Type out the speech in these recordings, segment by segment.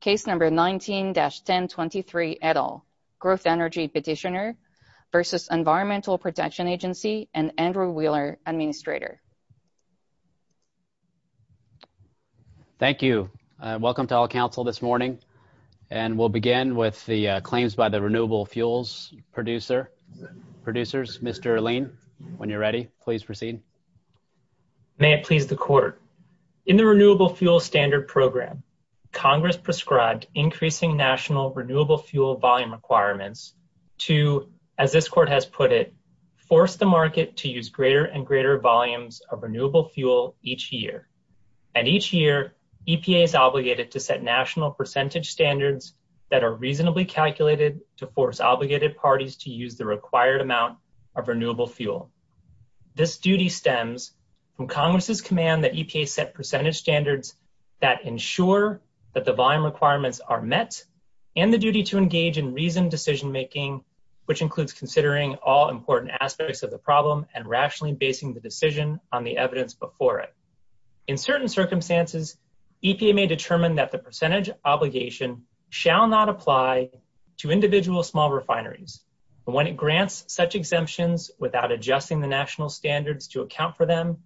Case number 19-1023 et al. Growth Energy Petitioner versus Environmental Protection Agency and Andrew Wheeler Administrator. Thank you. Welcome to all council this morning and we'll begin with the claims by the Renewable Fuels producers. Mr. Lane when you're ready please proceed. May it please the Congress prescribed increasing national renewable fuel volume requirements to as this court has put it force the market to use greater and greater volumes of renewable fuel each year and each year EPA is obligated to set national percentage standards that are reasonably calculated to force obligated parties to use the required amount of renewable fuel. This duty stems from Congress's command that EPA set percentage standards that ensure that the volume requirements are met and the duty to engage in reasoned decision-making which includes considering all important aspects of the problem and rationally basing the decision on the evidence before it. In certain circumstances EPA may determine that the percentage obligation shall not apply to individual small refineries. When it grants such exemptions without adjusting the national standards to AFPM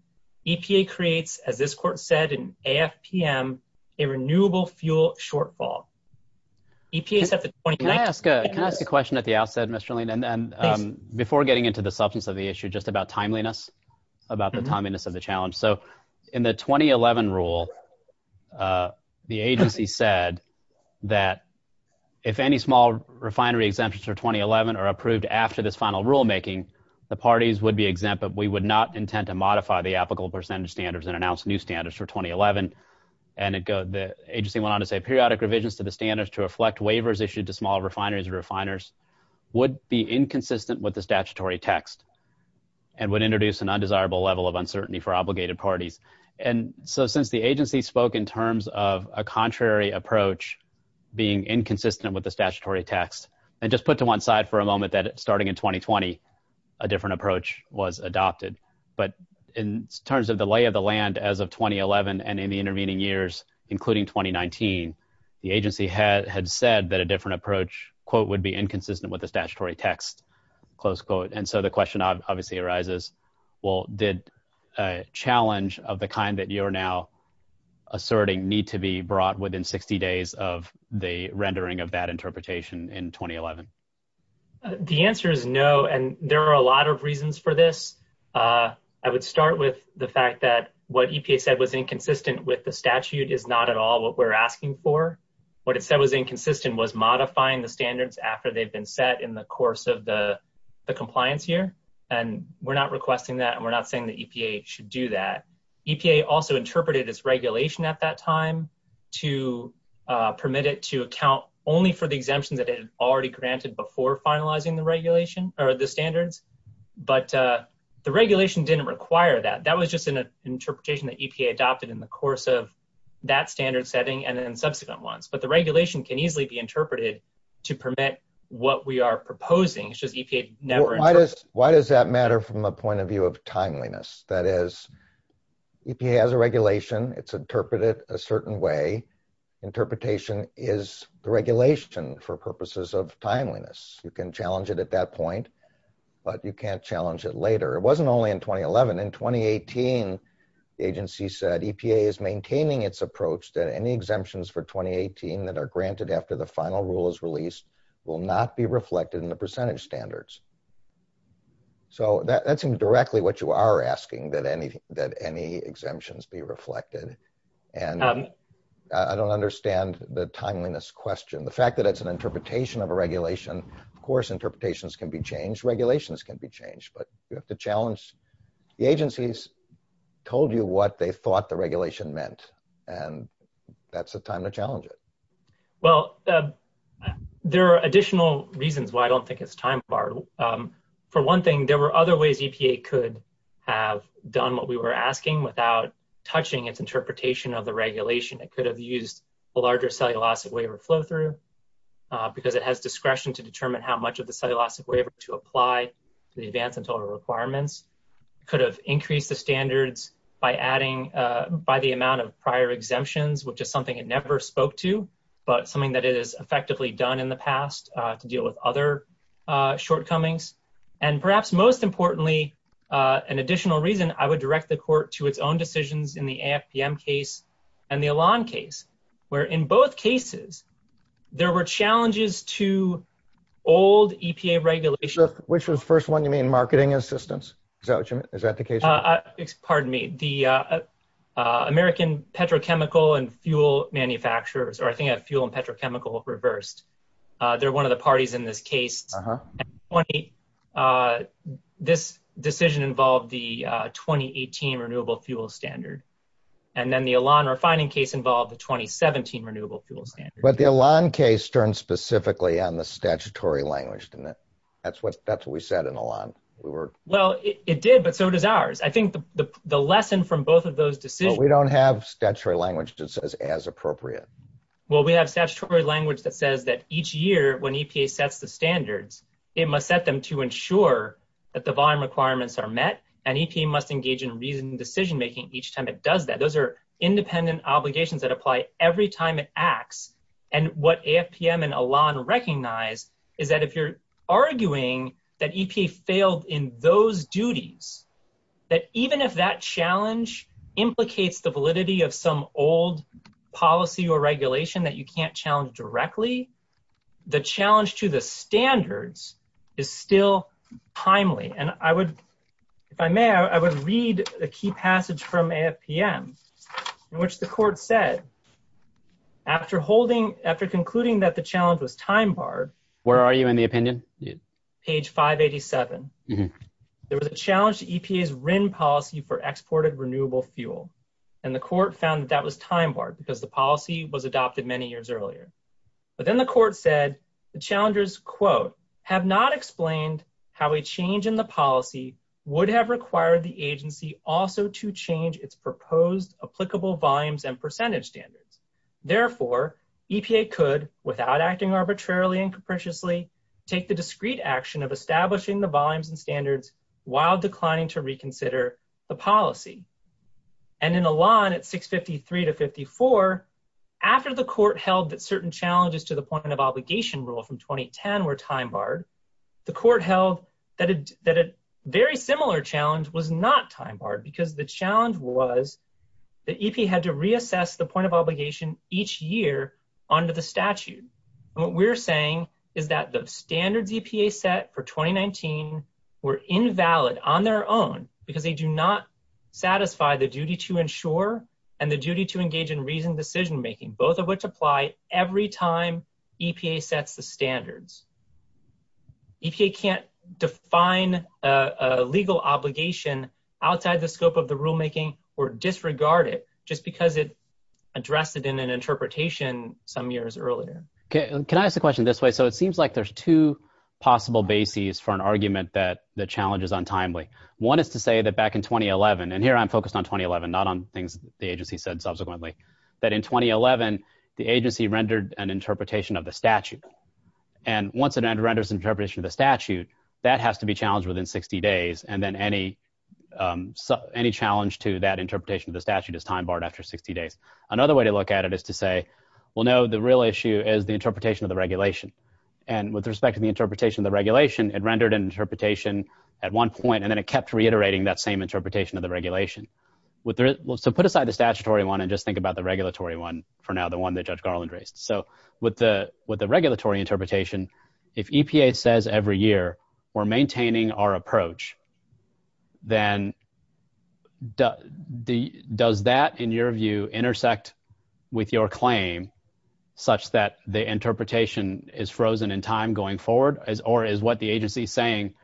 a renewable fuel shortfall. Can I ask a question at the outset Mr. Lane and then before getting into the substance of the issue just about timeliness about the timeliness of the challenge. So in the 2011 rule the agency said that if any small refinery exemptions for 2011 are approved after this final rule making the parties would be exempt but we would not intend to modify the 2011 and it goes the agency went on to say periodic revisions to the standards to reflect waivers issued to small refineries and refiners would be inconsistent with the statutory text and would introduce an undesirable level of uncertainty for obligated parties. And so since the agency spoke in terms of a contrary approach being inconsistent with the statutory text and just put to one side for a moment that starting in 2020 a different approach was adopted but in terms of the lay of the land as of 2011 and in the intervening years including 2019 the agency had said that a different approach quote would be inconsistent with the statutory text close quote and so the question obviously arises well did a challenge of the kind that you are now asserting need to be brought within 60 days of the rendering of that interpretation in 2011. The answer is no and there are a lot of reasons for this. I would start with the fact that what EPA said was inconsistent with the statute is not at all what we're asking for. What it said was inconsistent was modifying the standards after they've been set in the course of the compliance year and we're not requesting that and we're not saying that EPA should do that. EPA also interpreted its regulation at that time to permit it to account only for the regulation or the standards but the regulation didn't require that. That was just an interpretation that EPA adopted in the course of that standard setting and then subsequent ones but the regulation can easily be interpreted to permit what we are proposing. Why does that matter from a point of view of timeliness? That is EPA has a regulation it's interpreted a certain way. Interpretation is regulation for purposes of timeliness. You can challenge it at that point but you can't challenge it later. It wasn't only in 2011. In 2018 the agency said EPA is maintaining its approach that any exemptions for 2018 that are granted after the final rule is released will not be reflected in the percentage standards. So that's indirectly what you are asking that any exemptions be reflected and I don't understand the timeliness question. The fact that it's an interpretation of a regulations can be changed but you have to challenge the agencies told you what they thought the regulation meant and that's the time to challenge it. Well there are additional reasons why I don't think it's time borrowed. For one thing there were other ways EPA could have done what we were asking without touching its interpretation of the regulation. It could have used a larger cellulosic waiver flow-through because it has discretion to determine how much of the cellulosic waiver to apply to the advanced and total requirements. Could have increased the standards by adding by the amount of prior exemptions which is something it never spoke to but something that is effectively done in the past to deal with other shortcomings. And perhaps most importantly an additional reason I would direct the court to its own decisions in the AFPM case and the Elan case where in both cases there were challenges to old EPA regulations. Which was the first one you mean marketing assistance? Is that what you mean? Is that the case? Pardon me the American petrochemical and fuel manufacturers or I think I have fuel and petrochemical reversed. They're one of the parties in this case. This decision involved the 2018 renewable fuel standard and then the Elan refining case involved the 2017 renewable fuel standard. But the Elan case turned specifically on the statutory language. That's what that's what we said in Elan. Well it did but so does ours. I think the lesson from both of those decisions. We don't have statutory language that says as appropriate. Well we have statutory language that says that each year when EPA sets the standards it must set them to ensure that the volume requirements are met and EPA must engage in reasoned decision making each time it does that. Those are independent obligations that apply every time it acts. And what AFPM and Elan recognized is that if you're arguing that EPA failed in those duties that even if that challenge implicates the validity of some old policy or regulation that you can't challenge directly, the challenge to the standards is still timely. And I would if I may I would read a key passage from AFPM in which the court said after holding after concluding that the challenge was time barred. Where are you in the opinion? Page 587. There was a challenge to EPA's RIN policy for exported renewable fuel and the court found that was time barred because the policy was adopted many years earlier. But then the court said the challengers quote have not explained how a change in the policy would have required the agency also to change its proposed applicable volumes and percentage standards. Therefore EPA could without acting arbitrarily and capriciously take the discreet action of establishing the volumes and standards while declining to reconsider the policy. And in Elan at 653 to 54 after the court held that certain challenges to the held that a very similar challenge was not time barred because the challenge was that EPA had to reassess the point of obligation each year under the statute. What we're saying is that the standard EPA set for 2019 were invalid on their own because they do not satisfy the duty to ensure and the duty to engage in reasoned decision-making both of which apply every time EPA sets the define a legal obligation outside the scope of the rulemaking were disregarded just because it addressed it in an interpretation some years earlier. Okay can I ask the question this way so it seems like there's two possible bases for an argument that the challenge is untimely. One is to say that back in 2011 and here I'm focused on 2011 not on things the agency said subsequently that in 2011 the agency rendered an interpretation of the statute and once it renders interpretation of the statute that has to be challenged within 60 days and then any any challenge to that interpretation of the statute is time barred after 60 days. Another way to look at it is to say well no the real issue is the interpretation of the regulation and with respect to the interpretation of the regulation it rendered an interpretation at one point and then it kept reiterating that same interpretation of the regulation. What there was to put aside the statutory one and just think about the regulatory one reinterpretation if EPA says every year we're maintaining our approach then the does that in your view intersect with your claim such that the interpretation is frozen in time going forward or is what the agency is saying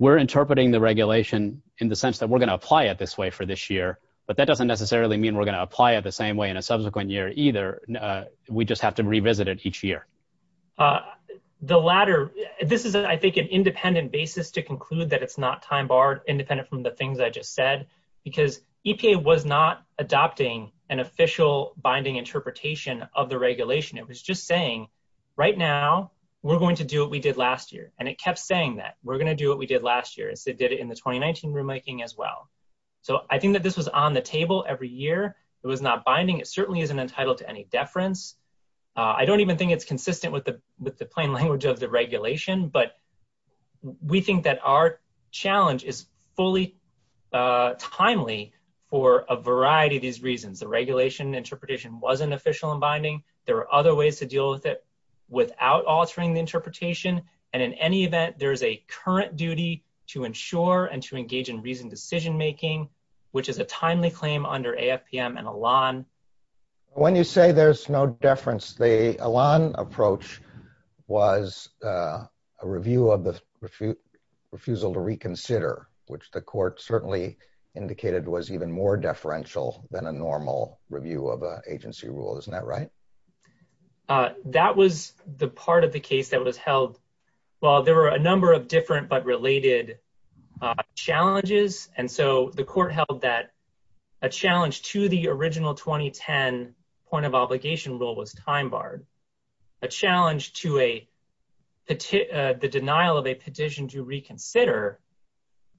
we're interpreting the regulation in the sense that we're going to apply it this way for this year but that doesn't necessarily mean we're going to apply it the same way in a subsequent year either we just have to revisit it each year. The latter this is I think an independent basis to conclude that it's not time barred independent from the things I just said because EPA was not adopting an official binding interpretation of the regulation it was just saying right now we're going to do what we did last year and it kept saying that we're gonna do what we did last year it's they did it in the 2019 rulemaking as well so I think that this was on the table every year it was not binding it certainly isn't entitled to any deference I don't even think it's consistent with the with the plain language of the regulation but we think that our challenge is fully timely for a variety of these reasons the regulation interpretation wasn't official and binding there are other ways to deal with it without altering the interpretation and in any event there is a current duty to ensure and to engage in reasoned decision-making which is a timely claim under AFPM and Elan. When you say there's no deference the Elan approach was a review of the refusal to reconsider which the court certainly indicated was even more deferential than a normal review of agency rule isn't that right? That was the part of the case that was held well there were a number of different but related challenges and so the court held that a challenge to the original 2010 point of obligation rule was time barred a challenge to a the denial of a petition to reconsider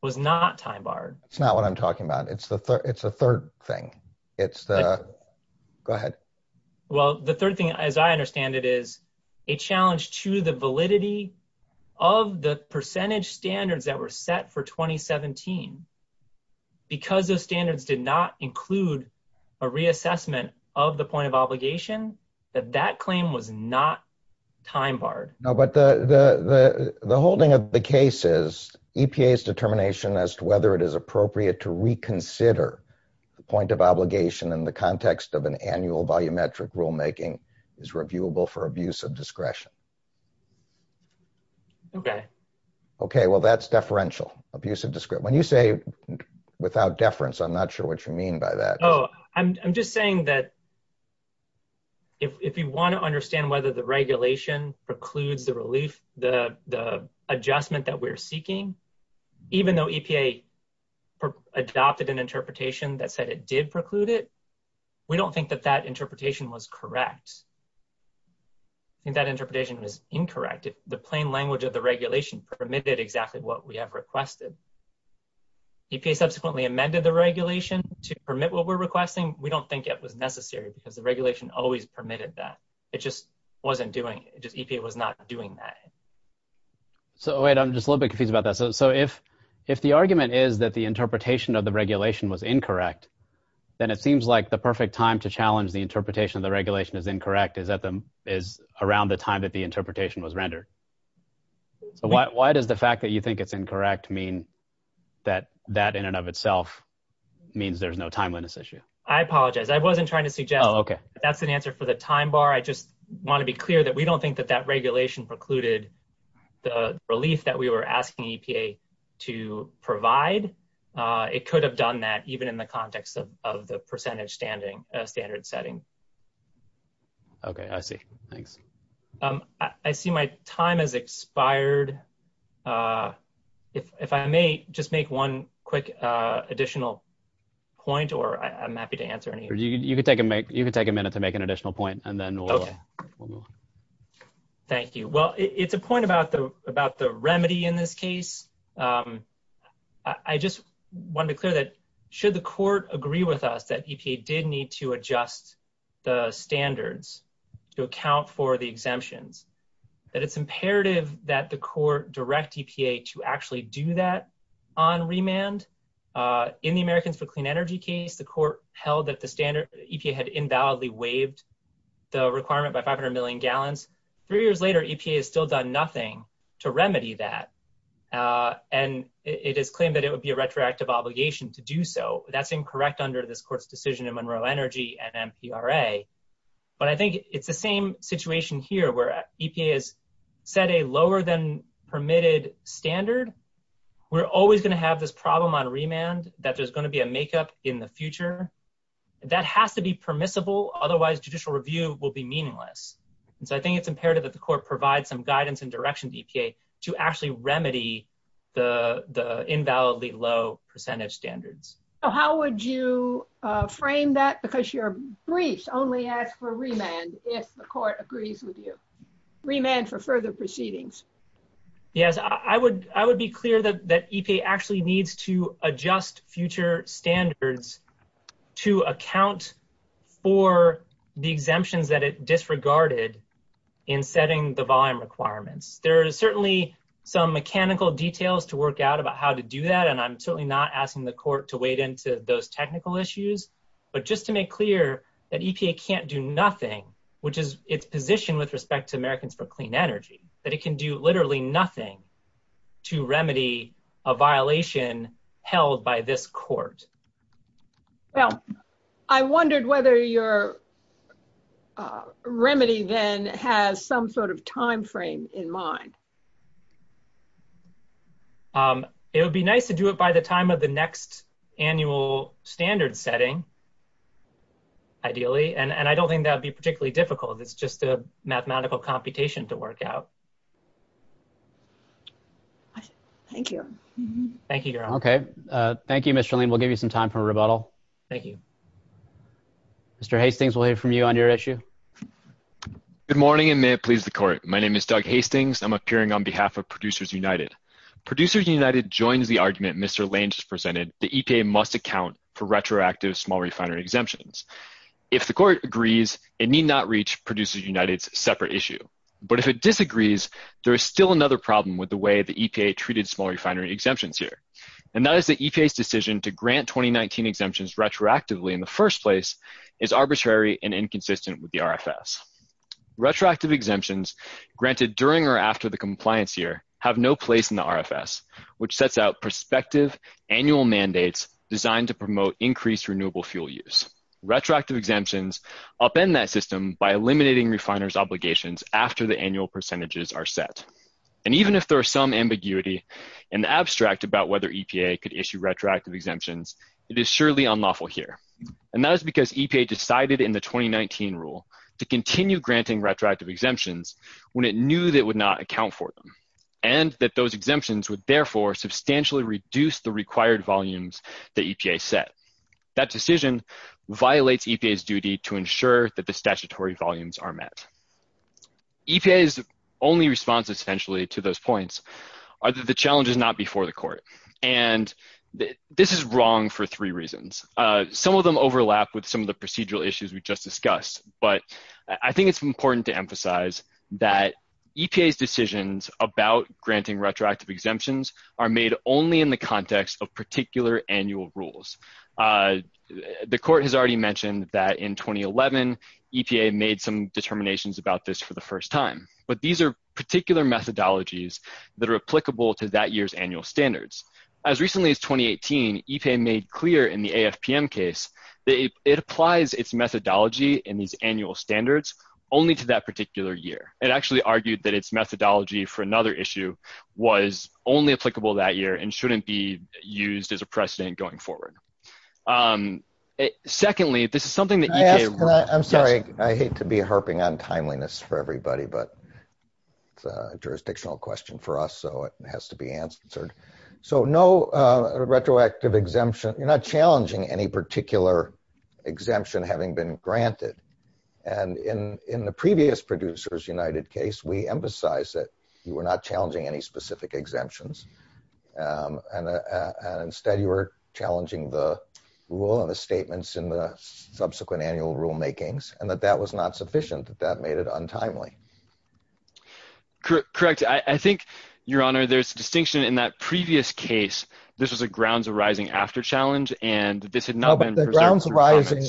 was not time barred it's not what I'm talking about it's the it's a third thing it's the go ahead well the third thing as I understand it is a challenge to the validity of the percentage standards that were set for 2017 because those standards did not include a reassessment of the point of obligation that that claim was not time barred. No but the the the holding of the case is EPA's determination as to whether it is appropriate to reconsider the point of obligation in the context of an annual volumetric rulemaking is reviewable for abuse of discretion. Okay. Okay well that's deferential abuse of discretion when you say without deference I'm not sure what you mean by that. Oh I'm just saying that if you want to understand whether the regulation precludes the relief the adjustment that we're seeking even though EPA adopted an interpretation that said it did preclude it we don't think that that interpretation was correct and that interpretation is incorrect the plain language of the regulation permitted exactly what we have requested EPA subsequently amended the regulation to permit what we're requesting we don't think it was necessary because the regulation always permitted that it just wasn't doing it just EPA was not doing that. So wait I'm just a little bit confused about that so if if the argument is that the interpretation of the regulation was incorrect then it seems like the perfect time to challenge the interpretation of the regulation is incorrect is that them is around the time that the interpretation was rendered. Why does the fact that you think it's incorrect mean that that in and of itself means there's no timeliness issue? I apologize I wasn't trying to see Joe okay that's an answer for the time bar I just want to be clear that we don't think that that regulation precluded the relief that we were asking EPA to provide it could have done that even in the context of the percentage standard setting. Okay I see thanks. I see my time has expired if I may just make one quick additional point or I'm happy to answer. You can take a minute to make an additional point and then we'll move. Thank you well it's a point about the remedy in this case. I just wanted to clear that should the court agree with us that EPA did need to adjust the standards to account for the exemptions that it's imperative that the court direct EPA to actually do that on remand. In the Americans for Clean Energy case the court held that the standard EPA had invalidly waived the requirement by 500 million gallons. Three years later EPA has still done nothing to remedy that and it is claimed that it would be a retroactive obligation to do so. That's incorrect under this court's decision in Monroe Energy and MCRA but I think it's the same situation here where EPA has set a lower than permitted standard. We're always going to have this problem on remand that there's going to be a makeup in the future. That has to be permissible otherwise judicial review will be meaningless. So I think it's imperative that the court provide some guidance and directions EPA to actually remedy the the invalidly low percentage standards. So how would you frame that because your briefs only ask for remand if the court agrees with you. Remand for further proceedings. Yes I would I would be clear that that EPA actually needs to requirements. There are certainly some mechanical details to work out about how to do that and I'm certainly not asking the court to wade into those technical issues but just to make clear that EPA can't do nothing which is its position with respect to Americans for Clean Energy but it can do literally nothing to remedy a violation held by this court. Well I wondered whether your remedy then has some sort of time frame in mind. It would be nice to do it by the time of the next annual standard setting ideally and and I don't think that would be particularly difficult it's just a mathematical computation to work out. Thank you. Thank you. Okay thank you Mr. Lean. We'll give you some time for Good morning and may it please the court. My name is Doug Hastings. I'm appearing on behalf of Producers United. Producers United joins the argument Mr. Lange presented the EPA must account for retroactive small refinery exemptions. If the court agrees it need not reach Producers United's separate issue but if it disagrees there is still another problem with the way the EPA treated small refinery exemptions here and that is the EPA's decision to grant 2019 exemptions retroactively in the first place is arbitrary and inconsistent with the RFS. Retroactive exemptions granted during or after the compliance year have no place in the RFS which sets out prospective annual mandates designed to promote increased renewable fuel use. Retroactive exemptions upend that system by eliminating refiners obligations after the annual percentages are set and even if there are some ambiguity and abstract about whether EPA could issue retroactive exemptions it is surely unlawful here and that is because EPA decided in the 2019 rule to continue granting retroactive exemptions when it knew that would not account for them and that those exemptions would therefore substantially reduce the required volumes that EPA set. That decision violates EPA's duty to ensure that the statutory volumes are met. EPA's only response essentially to those points are that the challenge is not before the this is wrong for three reasons. Some of them overlap with some of the procedural issues we just discussed but I think it's important to emphasize that EPA's decisions about granting retroactive exemptions are made only in the context of particular annual rules. The court has already mentioned that in 2011 EPA made some determinations about this for the first time but these are particular methodologies that are applicable to that year's annual standards. As recently as 2018 EPA made clear in the AFPM case that it applies its methodology in these annual standards only to that particular year. It actually argued that its methodology for another issue was only applicable that year and shouldn't be used as a precedent going forward. Secondly this is something that I'm sorry I hate to be harping on timeliness for everybody but jurisdictional question for us so it has to be answered. So no retroactive exemption you're not challenging any particular exemption having been granted and in in the previous Producers United case we emphasized that you were not challenging any specific exemptions and instead you were challenging the rule and the statements in the subsequent annual rulemakings and that that was not timely. Correct. I think your honor there's a distinction in that previous case this was a grounds arising after challenge and this had not been presented. The grounds arising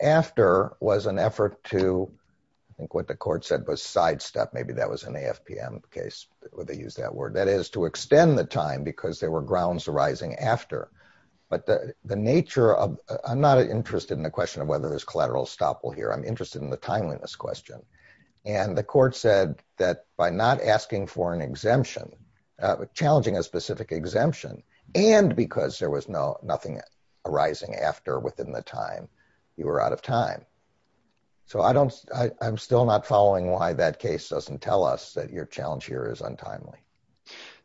after was an effort to I think what the court said was sidestep maybe that was an AFPM case where they used that word that is to extend the time because there were grounds arising after but the the nature of I'm not interested in the question of whether there's collateral estoppel here I'm and the court said that by not asking for an exemption challenging a specific exemption and because there was no nothing arising after within the time you were out of time. So I don't I'm still not following why that case doesn't tell us that your challenge here is untimely.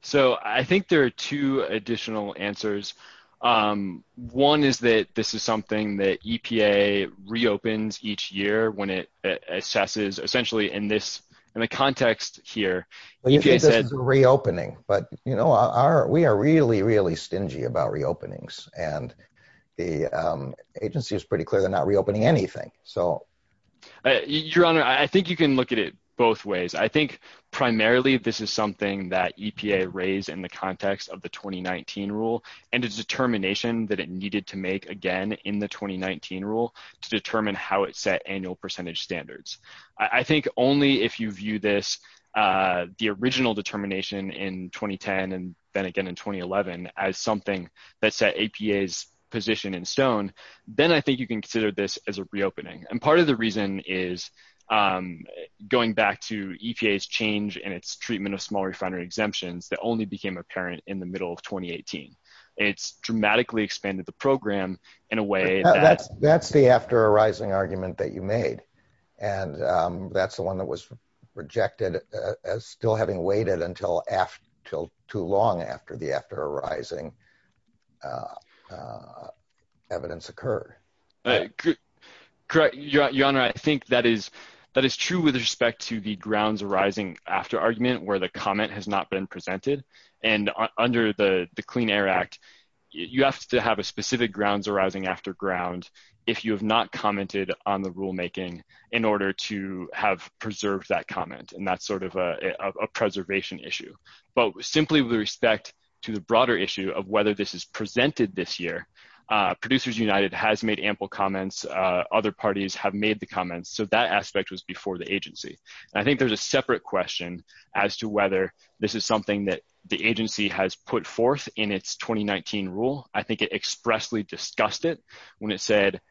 So I think there are two additional answers one is that this is something that EPA reopens each year when it assesses essentially in this in the context here. Reopening but you know our we are really really stingy about reopenings and the agency is pretty clear they're not reopening anything. So your honor I think you can look at it both ways I think primarily this is something that EPA raised in the context of the 2019 rule and its determination that it needed to make again in the 2019 rule to determine how it set annual percentage standards. I think only if you view this the original determination in 2010 and then again in 2011 as something that set APA's position in stone then I think you can consider this as a reopening and part of the reason is going back to EPA's change and its treatment of small refinery exemptions that only became apparent in the middle of 2018. It's dramatically expanded the program in a way that's that's the after arising argument that you made and that's the one that was rejected as still having waited until after till too long after the after arising evidence occurred. Correct your honor I think that is that is true with respect to the grounds arising after argument where the comment has not been presented and under the Clean Air Act you have to have a specific grounds arising after ground if you have not commented on the rulemaking in order to have preserved that comment and that's sort of a preservation issue. But simply with respect to the broader issue of whether this is presented this year Producers United has made ample comments other parties have made the comments so that aspect was before the agency. I think there's a separate question as to whether this is something that the agency has put forth in its 2019 rule. I think it expressly discussed it when it said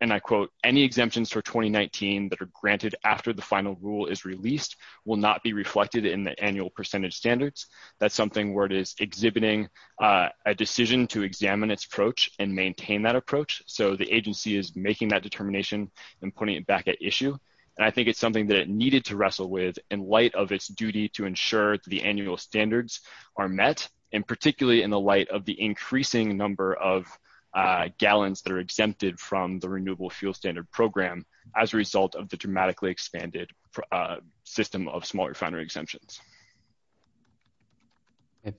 and I quote any exemptions for 2019 that are granted after the final rule is released will not be reflected in the annual percentage standards. That's something where it is exhibiting a decision to examine its approach and maintain that approach so the agency is making that determination and putting it back at issue and I think it's something that it needed to wrestle with in light of its duty to ensure the annual standards are met and particularly in the light of the increasing number of gallons that are exempted from the Renewable Fuel Standard Program as a result of the dramatically expanded system of small refinery exemptions.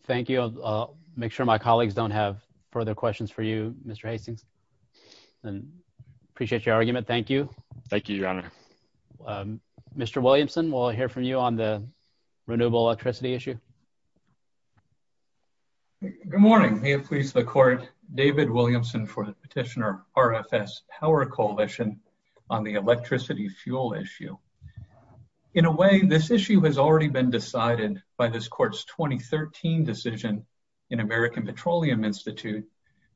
Thank you I'll make sure my colleagues don't have further questions for you Mr. Hastings and I'll hear from you on the renewable electricity issue. Good morning may it please the court David Williamson for the petitioner RFS Power Coalition on the electricity fuel issue. In a way this issue has already been decided by this court's 2013 decision in American Petroleum Institute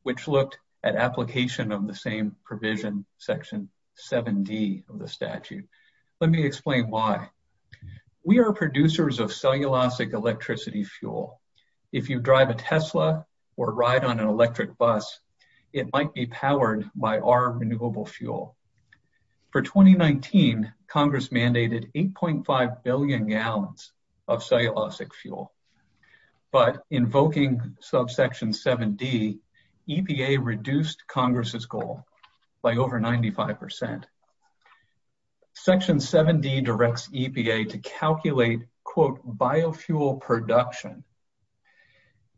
which looked at application of the same provision section 7d of the EPA. We are producers of cellulosic electricity fuel. If you drive a Tesla or ride on an electric bus it might be powered by our renewable fuel. For 2019 Congress mandated 8.5 billion gallons of cellulosic fuel but invoking subsection 7d EPA reduced Congress's goal by over 95%. Section 7d directs EPA to calculate quote biofuel production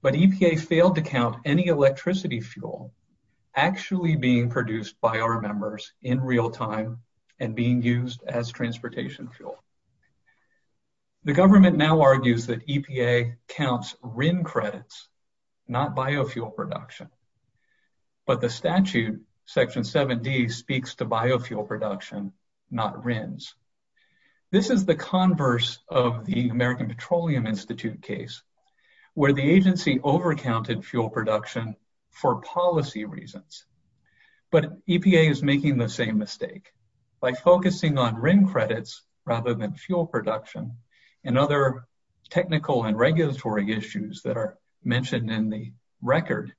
but EPA failed to count any electricity fuel actually being produced by our members in real time and being used as transportation fuel. The government now argues that EPA counts RIN credits not biofuel production but the statute section 7d speaks to biofuel production not RINs. This is the converse of the American Petroleum Institute case where the agency over counted fuel production for policy reasons but EPA is making the same mistake by focusing on RIN credits rather than fuel production and other technical and regulatory issues that are mentioned in the record.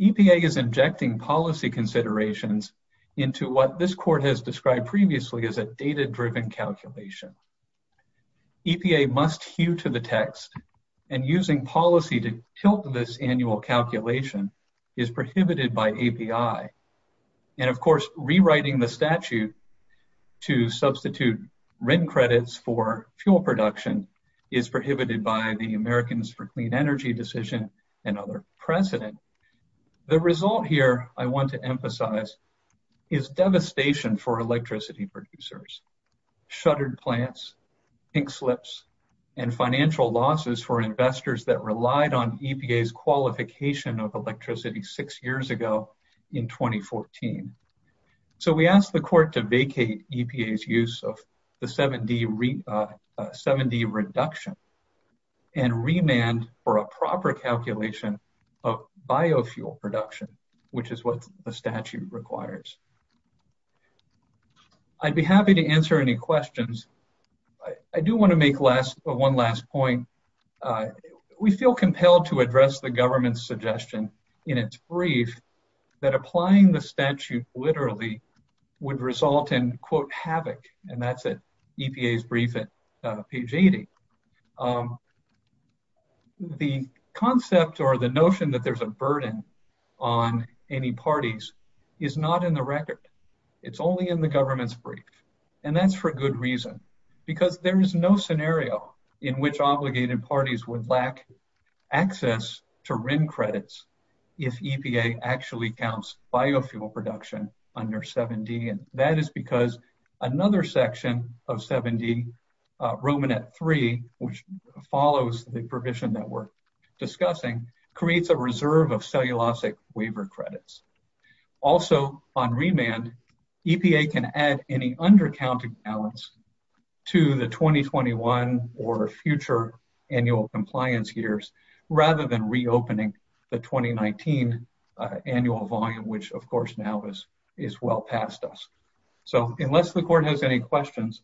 EPA is injecting policy considerations into what this court has described previously as a data driven calculation. EPA must hew to the text and using policy to tilt this annual calculation is prohibited by API and of course rewriting the statute to substitute RIN credits for fuel production is prohibited by the Americans for Clean Energy decision and other precedent. The result here I want to emphasize is devastation for electricity producers. Shuttered plants, ink slips, and financial losses for investors that relied on EPA's qualification of electricity six years ago in 2014. So we asked the court to vacate EPA's use of the 7d reduction and remand for a proper calculation of biofuel production which is what the statute requires. I'd be I do want to make one last point. We feel compelled to address the government's suggestion in its brief that applying the statute literally would result in quote havoc and that's at EPA's brief at page 80. The concept or the notion that there's a burden on any parties is not in the record. It's only in the government's brief and that's for good reason because there is no scenario in which obligated parties would lack access to RIN credits if EPA actually counts biofuel production under 7d and that is because another section of 7d, Romanet 3, which follows the provision that we're discussing creates a reserve of cellulosic waiver credits. Also on remand, EPA can add any undercounting balance to the 2021 or future annual compliance years rather than reopening the 2019 annual volume which of course now is is well past us. So unless the court has any questions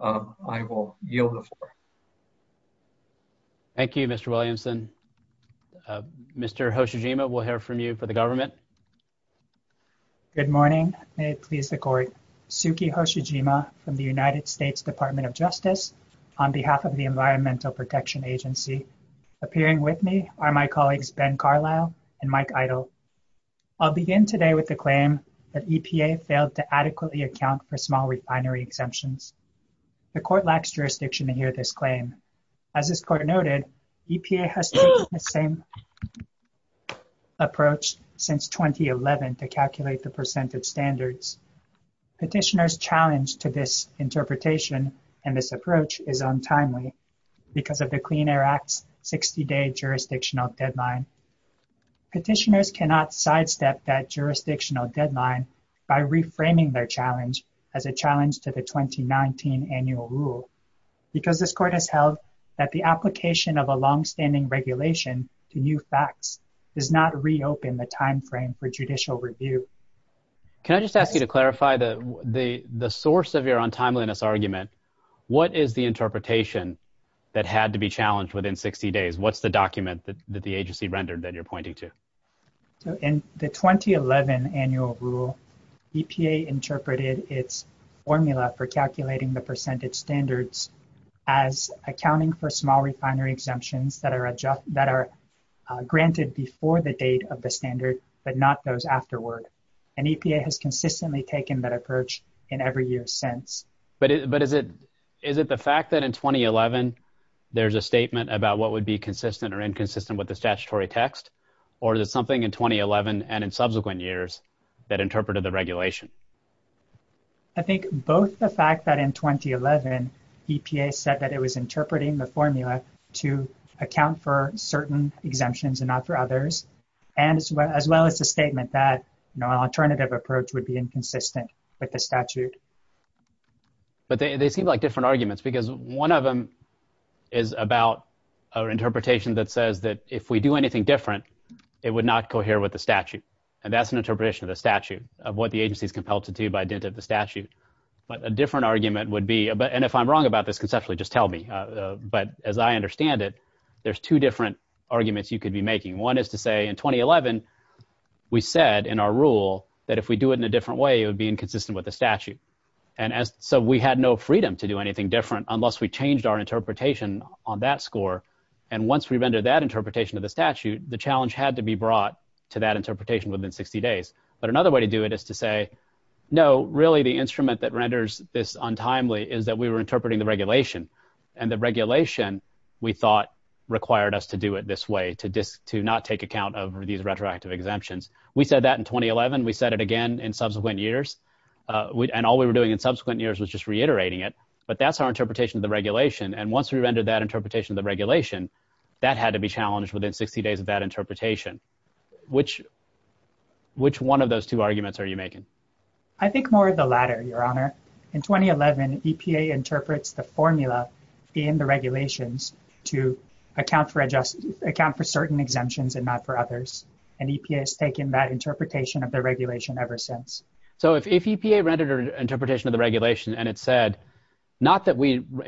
I will yield the floor. Thank you Mr. Williamson. Mr. Hoshijima, we'll hear from you for the government. Good morning. May it please the court. Suki Hoshijima from the United States Department of Justice on behalf of the Environmental Protection Agency. Appearing with me are my colleagues Ben Carlisle and Mike Eidel. I'll begin today with the claim that EPA failed to adequately account for small refinery exemptions. The court lacks jurisdiction to hear this claim. As this court noted, EPA has taken the same approach since 2011 to calculate the percent of standards. Petitioners challenge to this interpretation and this approach is untimely because of the Clean Air Act 60-day jurisdictional deadline. Petitioners cannot sidestep that jurisdictional deadline by reframing their challenge as a challenge to the 2019 annual rule because this court has held that the application of a long-standing regulation to new facts does not reopen the time frame for judicial review. Can I just ask you to clarify that the the source of your untimeliness argument, what is the interpretation that had to be challenged within 60 days? What's the document that the agency rendered that you're pointing to? In the 2011 annual rule, EPA interpreted its formula for calculating the percentage standards as accounting for small refinery exemptions that are granted before the date of the standard but not those afterward. And EPA has consistently taken that approach in every year since. But is it the fact that in 2011 there's a statement about what would be or is it something in 2011 and in subsequent years that interpreted the regulation? I think both the fact that in 2011 EPA said that it was interpreting the formula to account for certain exemptions and not for others and as well as the statement that no alternative approach would be inconsistent with the statute. But they seem like different arguments because one of them is about our interpretation that says that if we do anything different it would not cohere with the statute. And that's an interpretation of the statute of what the agency is compelled to do by dint of the statute. But a different argument would be, and if I'm wrong about this conceptually just tell me, but as I understand it there's two different arguments you could be making. One is to say in 2011 we said in our rule that if we do it in a different way it would be inconsistent with the statute. And so we had no freedom to do anything different unless we changed our interpretation on that And once we rendered that interpretation of the statute the challenge had to be brought to that interpretation within 60 days. But another way to do it is to say no really the instrument that renders this untimely is that we were interpreting the regulation. And the regulation we thought required us to do it this way to not take account of these retroactive exemptions. We said that in 2011. We said it again in subsequent years. And all we were doing in subsequent years was just reiterating it. But that's our interpretation of the regulation. And once we rendered that interpretation of regulation that had to be challenged within 60 days of that interpretation. Which, which one of those two arguments are you making? I think more of the latter your honor. In 2011 EPA interprets the formula in the regulations to account for adjustments, account for certain exemptions and not for others. And EPA has taken that interpretation of the regulation ever since. So if EPA rendered an interpretation of the regulation and it said not that we way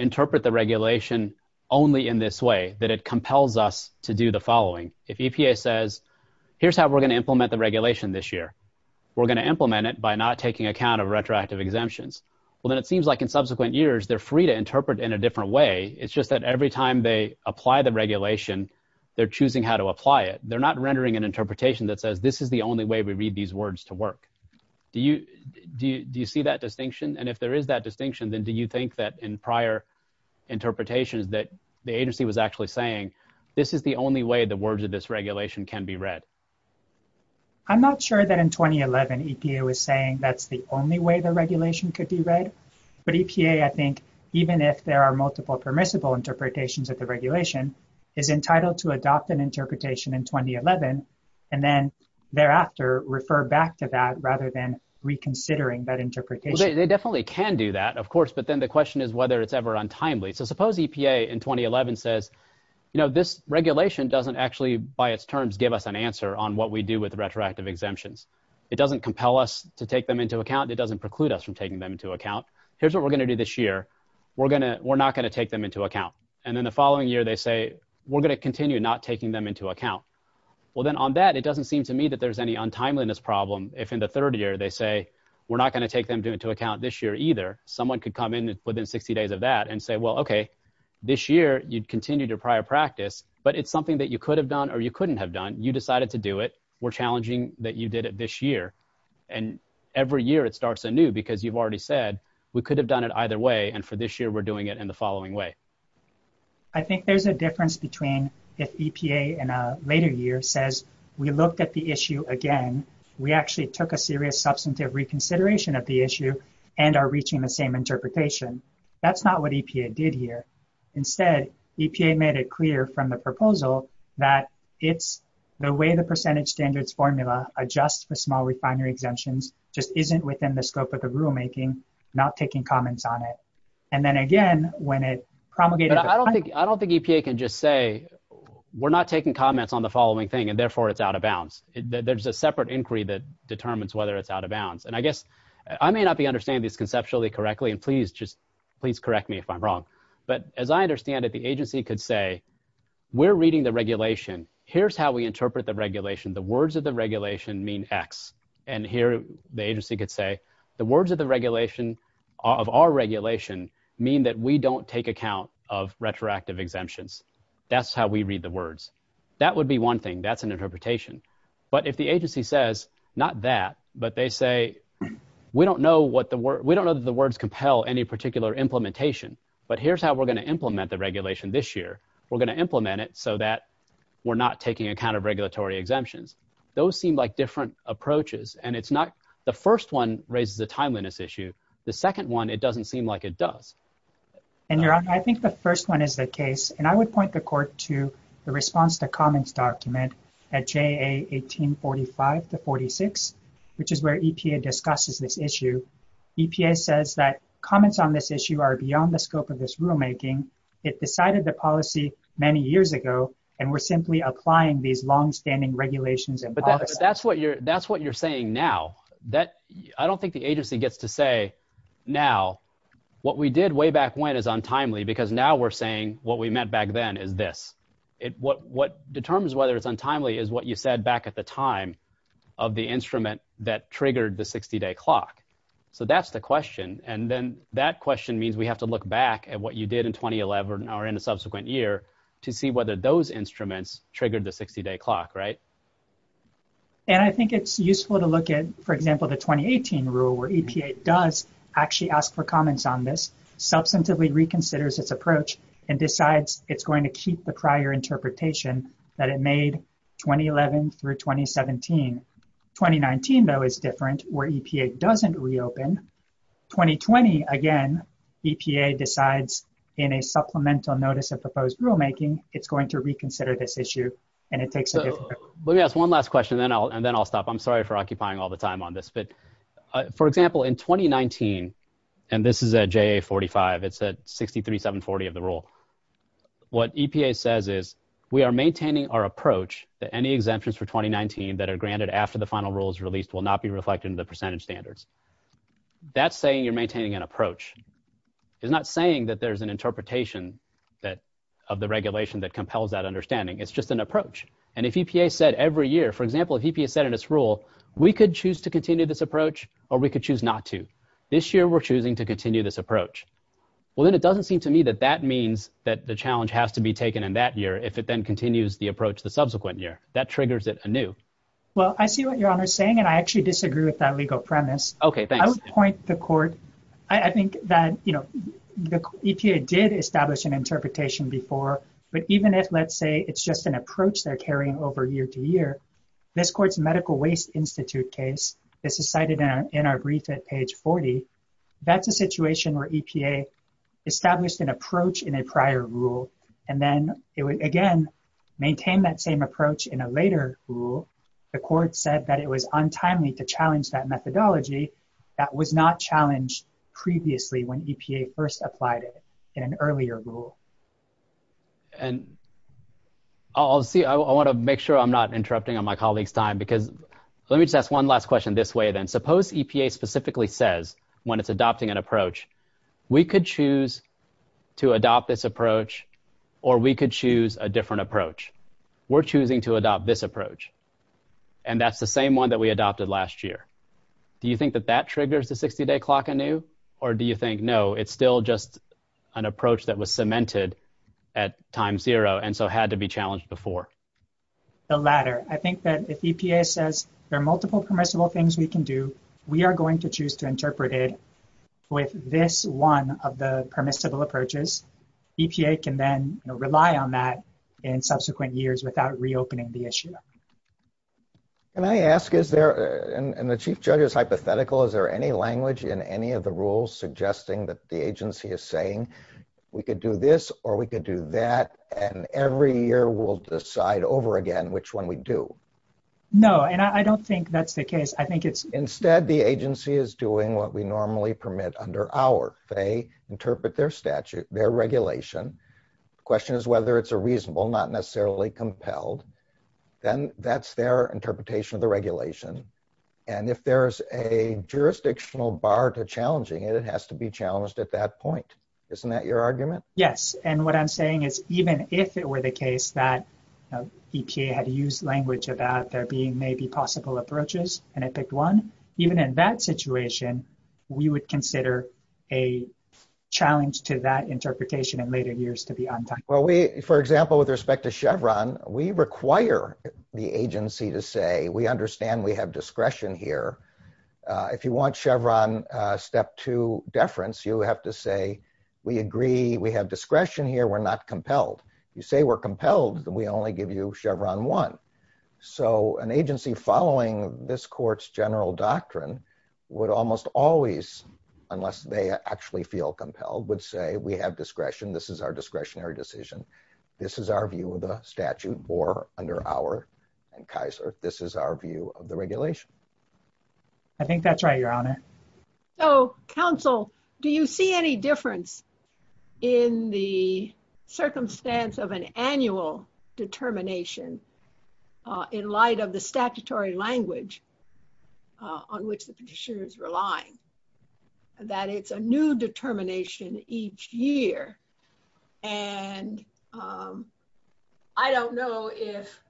that it compels us to do the following. If EPA says here's how we're going to implement the regulation this year. We're going to implement it by not taking account of retroactive exemptions. Well then it seems like in subsequent years they're free to interpret in a different way. It's just that every time they apply the regulation they're choosing how to apply it. They're not rendering an interpretation that says this is the only way we read these words to work. Do you, do you see that distinction? And if there is that distinction then do you think that in prior interpretations that the agency was actually saying this is the only way the words of this regulation can be read? I'm not sure that in 2011 EPA was saying that's the only way the regulation could be read. But EPA I think even if there are multiple permissible interpretations of the regulation is entitled to adopt an interpretation in 2011 and then thereafter refer back to that rather than reconsidering that interpretation. They definitely can do that of course but then the question is whether it's ever untimely. So suppose EPA in 2011 says you know this regulation doesn't actually by its terms give us an answer on what we do with retroactive exemptions. It doesn't compel us to take them into account. It doesn't preclude us from taking them into account. Here's what we're going to do this year. We're going to, we're not going to take them into account. And then the following year they say we're going to continue not taking them into account. Well then on that it doesn't seem to me that there's any untimeliness problem if in the third year they say we're not going to take them into account this year either. Someone could come in within 60 days of that and say well okay this year you'd continue to prior practice but it's something that you could have done or you couldn't have done. You decided to do it. We're challenging that you did it this year and every year it starts anew because you've already said we could have done it either way and for this year we're doing it in the following way. I think there's a difference between if EPA in a later year says we looked at the issue again. We actually took a serious substantive reconsideration of the issue and are reaching the same interpretation. That's not what EPA did here. Instead EPA made it clear from the proposal that it's the way the percentage standards formula adjusts for small refinery exemptions just isn't within the scope of the rulemaking not taking comments on it. And then again when it promulgated. I don't think EPA can just say we're not taking comments on the following thing and therefore it's out of bounds. There's a separate inquiry that determines whether it's out of bounds. And I guess I may not be understanding this conceptually correctly and please just please correct me if I'm wrong. But as I understand it the agency could say we're reading the regulation. Here's how we interpret the regulation. The words of the regulation mean X. And here the agency could say the words of the regulation of our regulation mean that we don't take account of retroactive exemptions. That's how we read the words. That would be one thing. That's an interpretation. But if the agency says not that but they say we don't know what the word we don't know the words compel any particular implementation. But here's how we're going to implement the regulation this year. We're going to implement it so that we're not taking account of regulatory exemptions. Those seem like different approaches and it's not the first one raises the timeliness issue. The second one it doesn't seem like it does. And your honor I think the first one is the case and I would point the court to the response to comments document at JA 1845 to 46 which is where EPA discusses this issue. EPA says that comments on this issue are beyond the scope of this rulemaking. It decided the policy many years ago and we're simply applying these long-standing regulations. But that's what you're that's what you're saying now. I don't think the agency gets to say now what we did way back when is untimely because now we're saying what we meant back then is this. What determines whether it's untimely is what you said back at the time of the instrument that triggered the 60-day clock. So that's the question and then that question means we have to look back at what you did in 2011 or in a subsequent year to see whether those instruments triggered the 60-day clock right? And I think it's useful to look at for example the 2018 rule where EPA does actually ask for comments on this. Substantively reconsiders its approach and decides it's going to keep the prior interpretation that it made 2011 through 2017. 2019 though is different where EPA doesn't reopen. 2020 again EPA decides in a supplemental notice of proposed rulemaking it's going to reconsider this issue and it takes a different approach. Yes one last question then I'll and then I'll stop. I'm sorry for occupying all the time on this but for example in 2019 and this is a JA 45 it's a 63 740 of the rule. What EPA says is we are maintaining our approach that any exemptions for 2019 that are granted after the final rules released will not be reflected in the percentage standards. That's saying you're maintaining an approach. It's not saying that there's an interpretation that of the regulation that compels that understanding. It's just an approach and if EPA said every year for example if EPA said in its rule we could choose to continue this approach or we could choose not to. This year we're choosing to continue this approach. Well then it doesn't seem to me that that means that the challenge has to be taken in that year if it then continues the approach the subsequent year. That triggers it anew. Well I see what your honor is saying and I actually disagree with that legal premise. Okay I would point the court I think that you know the EPA did establish an interpretation before but even if let's say it's just an approach they're Institute case this is cited in our brief at page 40 that's a situation where EPA established an approach in a prior rule and then it would again maintain that same approach in a later rule. The court said that it was untimely to challenge that methodology that was not challenged previously when EPA first applied it in an earlier rule. And I'll see I want to make sure I'm not Let me just ask one last question this way then. Suppose EPA specifically says when it's adopting an approach we could choose to adopt this approach or we could choose a different approach. We're choosing to adopt this approach and that's the same one that we adopted last year. Do you think that that triggers the 60-day clock anew or do you think no it's still just an approach that was cemented at time zero and so had to be challenged before? The latter. I think that if EPA says there are multiple permissible things we can do we are going to choose to interpret it with this one of the permissible approaches. EPA can then rely on that in subsequent years without reopening the issue. Can I ask is there and the chief judge is hypothetical is there any language in any of the rules suggesting that the agency is saying we could do this or we No and I don't think that's the case. I think it's instead the agency is doing what we normally permit under our they interpret their statute their regulation question is whether it's a reasonable not necessarily compelled then that's their interpretation of the regulation and if there's a jurisdictional bar to challenging it has to be challenged at that point. Isn't that your argument? Yes and what I'm saying is even if it were the case that EPA had used language of that there being maybe possible approaches and I picked one even in that situation we would consider a challenge to that interpretation of later years to be on time. Well we for example with respect to Chevron we require the agency to say we understand we have discretion here if you want Chevron step two deference you have to say we agree we have discretion here we're not So an agency following this court's general doctrine would almost always unless they actually feel compelled would say we have discretion this is our discretionary decision this is our view of a statute or under our and Kaiser this is our view of the regulation. I think that's right your honor. So counsel do you see any difference in the circumstance of an annual determination in light of the statutory language on which the petitioners relying that it's a new determination each year and I don't know if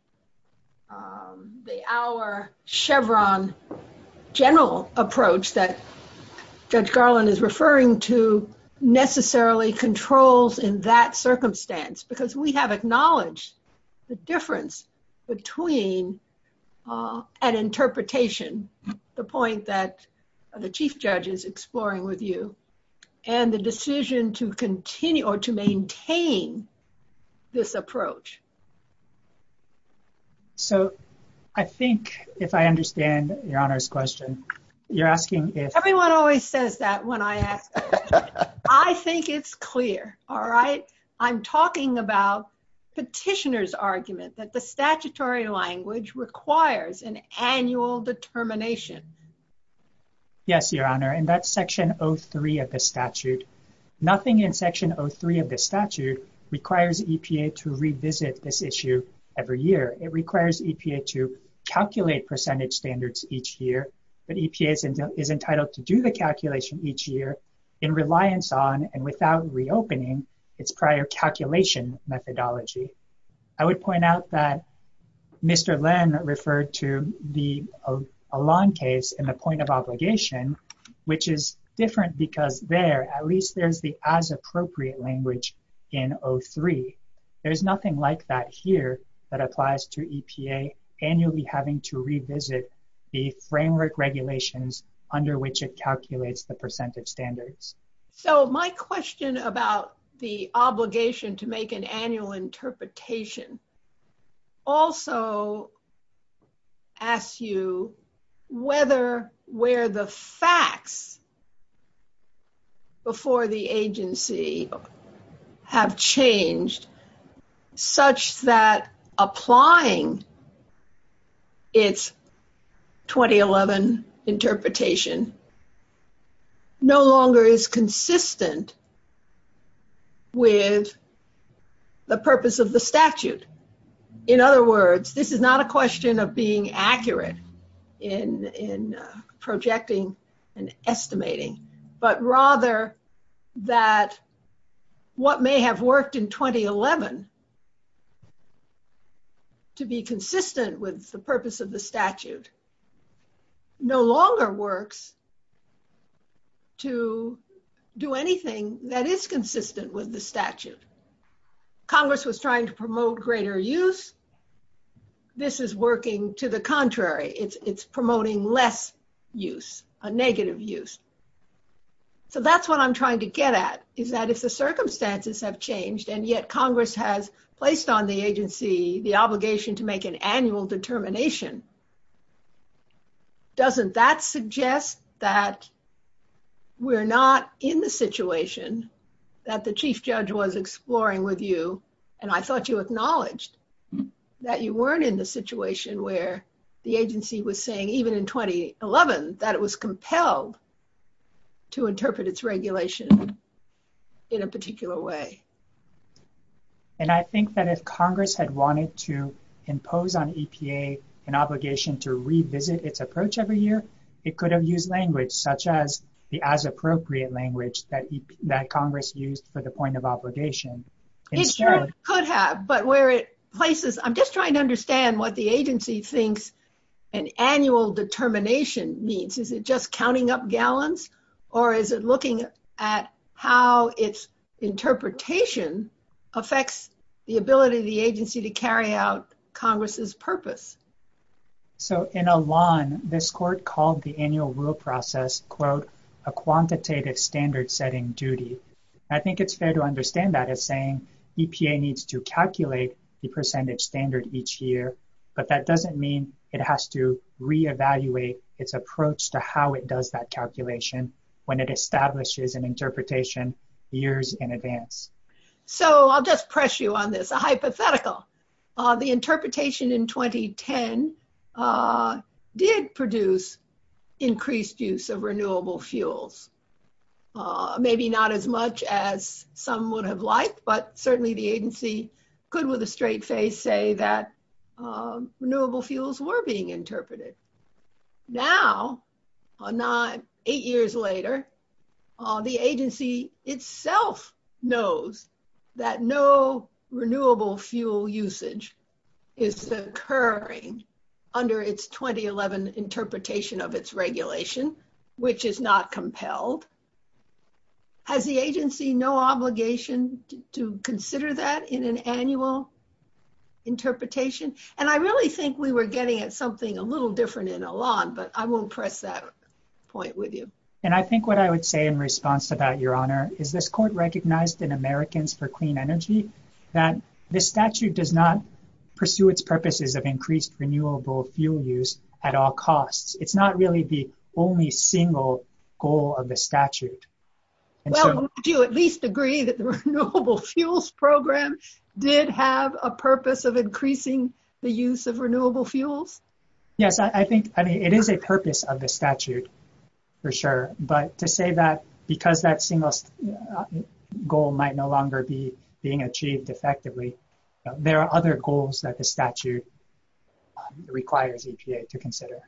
the our Chevron general approach that Judge Garland is referring to necessarily controls in that between an interpretation the point that the chief judge is exploring with you and the decision to continue or to maintain this approach. So I think if I understand your honors question you're asking if everyone always says that when I ask I think it's clear all right I'm talking about petitioners argument that the statutory language requires an annual determination. Yes your honor and that's section 03 of the statute nothing in section 03 of the statute requires EPA to revisit this issue every year it requires EPA to calculate percentage standards each year but EPA is entitled to do the calculation each year in reliance on and without reopening its prior calculation methodology. I would point out that Mr. Len referred to the Elan case in the point of obligation which is different because there at least there's the as appropriate language in 03 there's nothing like that here that applies to EPA annually having to revisit the framework regulations under which it calculates the percentage standards. So my question about the obligation to make an annual interpretation also asks you whether where the facts before the agency have changed such that applying its 2011 interpretation no longer is consistent with the purpose of the statute. In other words this is not a question of being accurate in in projecting and estimating but rather that what may have worked in 2011 to be consistent with the purpose of the statute no longer works to do anything that is consistent with the statute. Congress was trying to promote greater use this is working to the contrary it's promoting less use a negative use. So that's what I'm trying to get at is that if the circumstances have changed and yet Congress has placed on the agency the obligation to make an we're not in the situation that the chief judge was exploring with you and I thought you acknowledged that you weren't in the situation where the agency was saying even in 2011 that it was compelled to interpret its regulation in a particular way. And I think that if Congress had wanted to impose on EPA an obligation to revisit its approach every year it could have used language such as the as appropriate language that Congress used for the point of obligation. It could have but where it places I'm just trying to understand what the agency thinks an annual determination means is it just counting up gallons or is it looking at how its interpretation affects the ability of the agency to carry out Congress's purpose. So in Elan this court called the quote a quantitative standard-setting duty. I think it's fair to understand that as saying EPA needs to calculate the percentage standard each year but that doesn't mean it has to re-evaluate its approach to how it does that calculation when it establishes an interpretation years in advance. So I'll just press you on this a hypothetical. The interpretation in 2010 did produce increased use of renewable fuels. Maybe not as much as some would have liked but certainly the agency could with a straight face say that renewable fuels were being interpreted. Now, eight years later, the agency itself knows that no renewable fuel usage is occurring under its 2011 interpretation of its regulation which is not compelled. Has the agency no obligation to consider that in an annual interpretation? And I really think we were getting at something a little different in Elan but I won't press that point with you. And I think what I would say in response about your honor is this court recognized an American's for clean energy that the statute does not pursue its purposes of increased renewable fuel use at all costs. It's not really the only single goal of the statute. Well, do you at least agree that the Renewable Fuels Program did have a purpose of increasing the use of renewable fuels? Yes, I think I mean it is a purpose of the statute for sure but to say that because that single goal might no longer be being achieved effectively, there are other goals that the statute requires EPA to consider.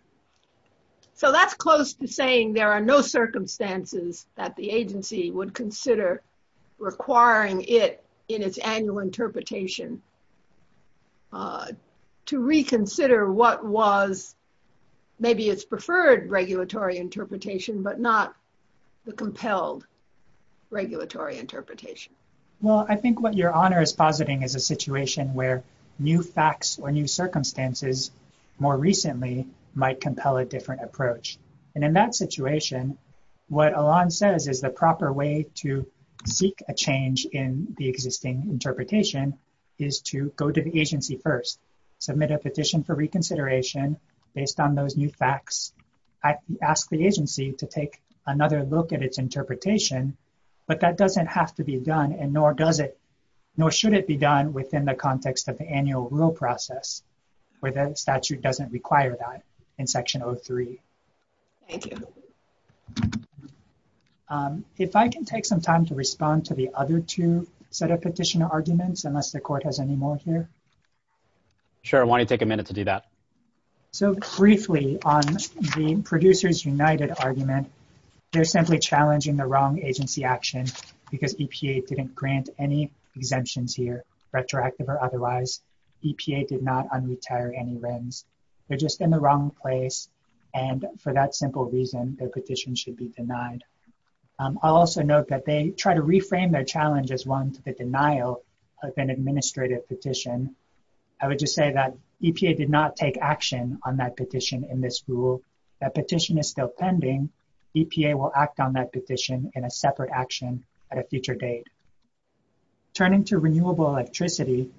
So that's close to saying there are no circumstances that the agency would consider requiring it in its annual interpretation to reconsider what was maybe its preferred regulatory interpretation but not the Well, I think what your honor is positing is a situation where new facts or new circumstances more recently might compel a different approach. And in that situation what Elan says is the proper way to seek a change in the existing interpretation is to go to the agency first, submit a petition for reconsideration based on those new facts, ask the agency to take another look at its interpretation, but that doesn't have to be done and nor does it, nor should it be done within the context of the annual rule process where the statute doesn't require that in Section 03. Thank you. If I can take some time to respond to the other two set of petition arguments unless the court has any more here. Sure, why don't you take a minute to do that. So briefly on the producers united argument, they're simply challenging the wrong agency action because EPA didn't grant any exemptions here, retroactive or otherwise. EPA did not un-retire any RIMS. They're just in the wrong place and for that simple reason their petition should be denied. I'll also note that they try to reframe their challenge as one to the denial of an administrative petition. I would just say that EPA did not take action on that petition in this rule. That petition is still pending. EPA will act on that petition in a separate action at a future date. Turning to renewable electricity,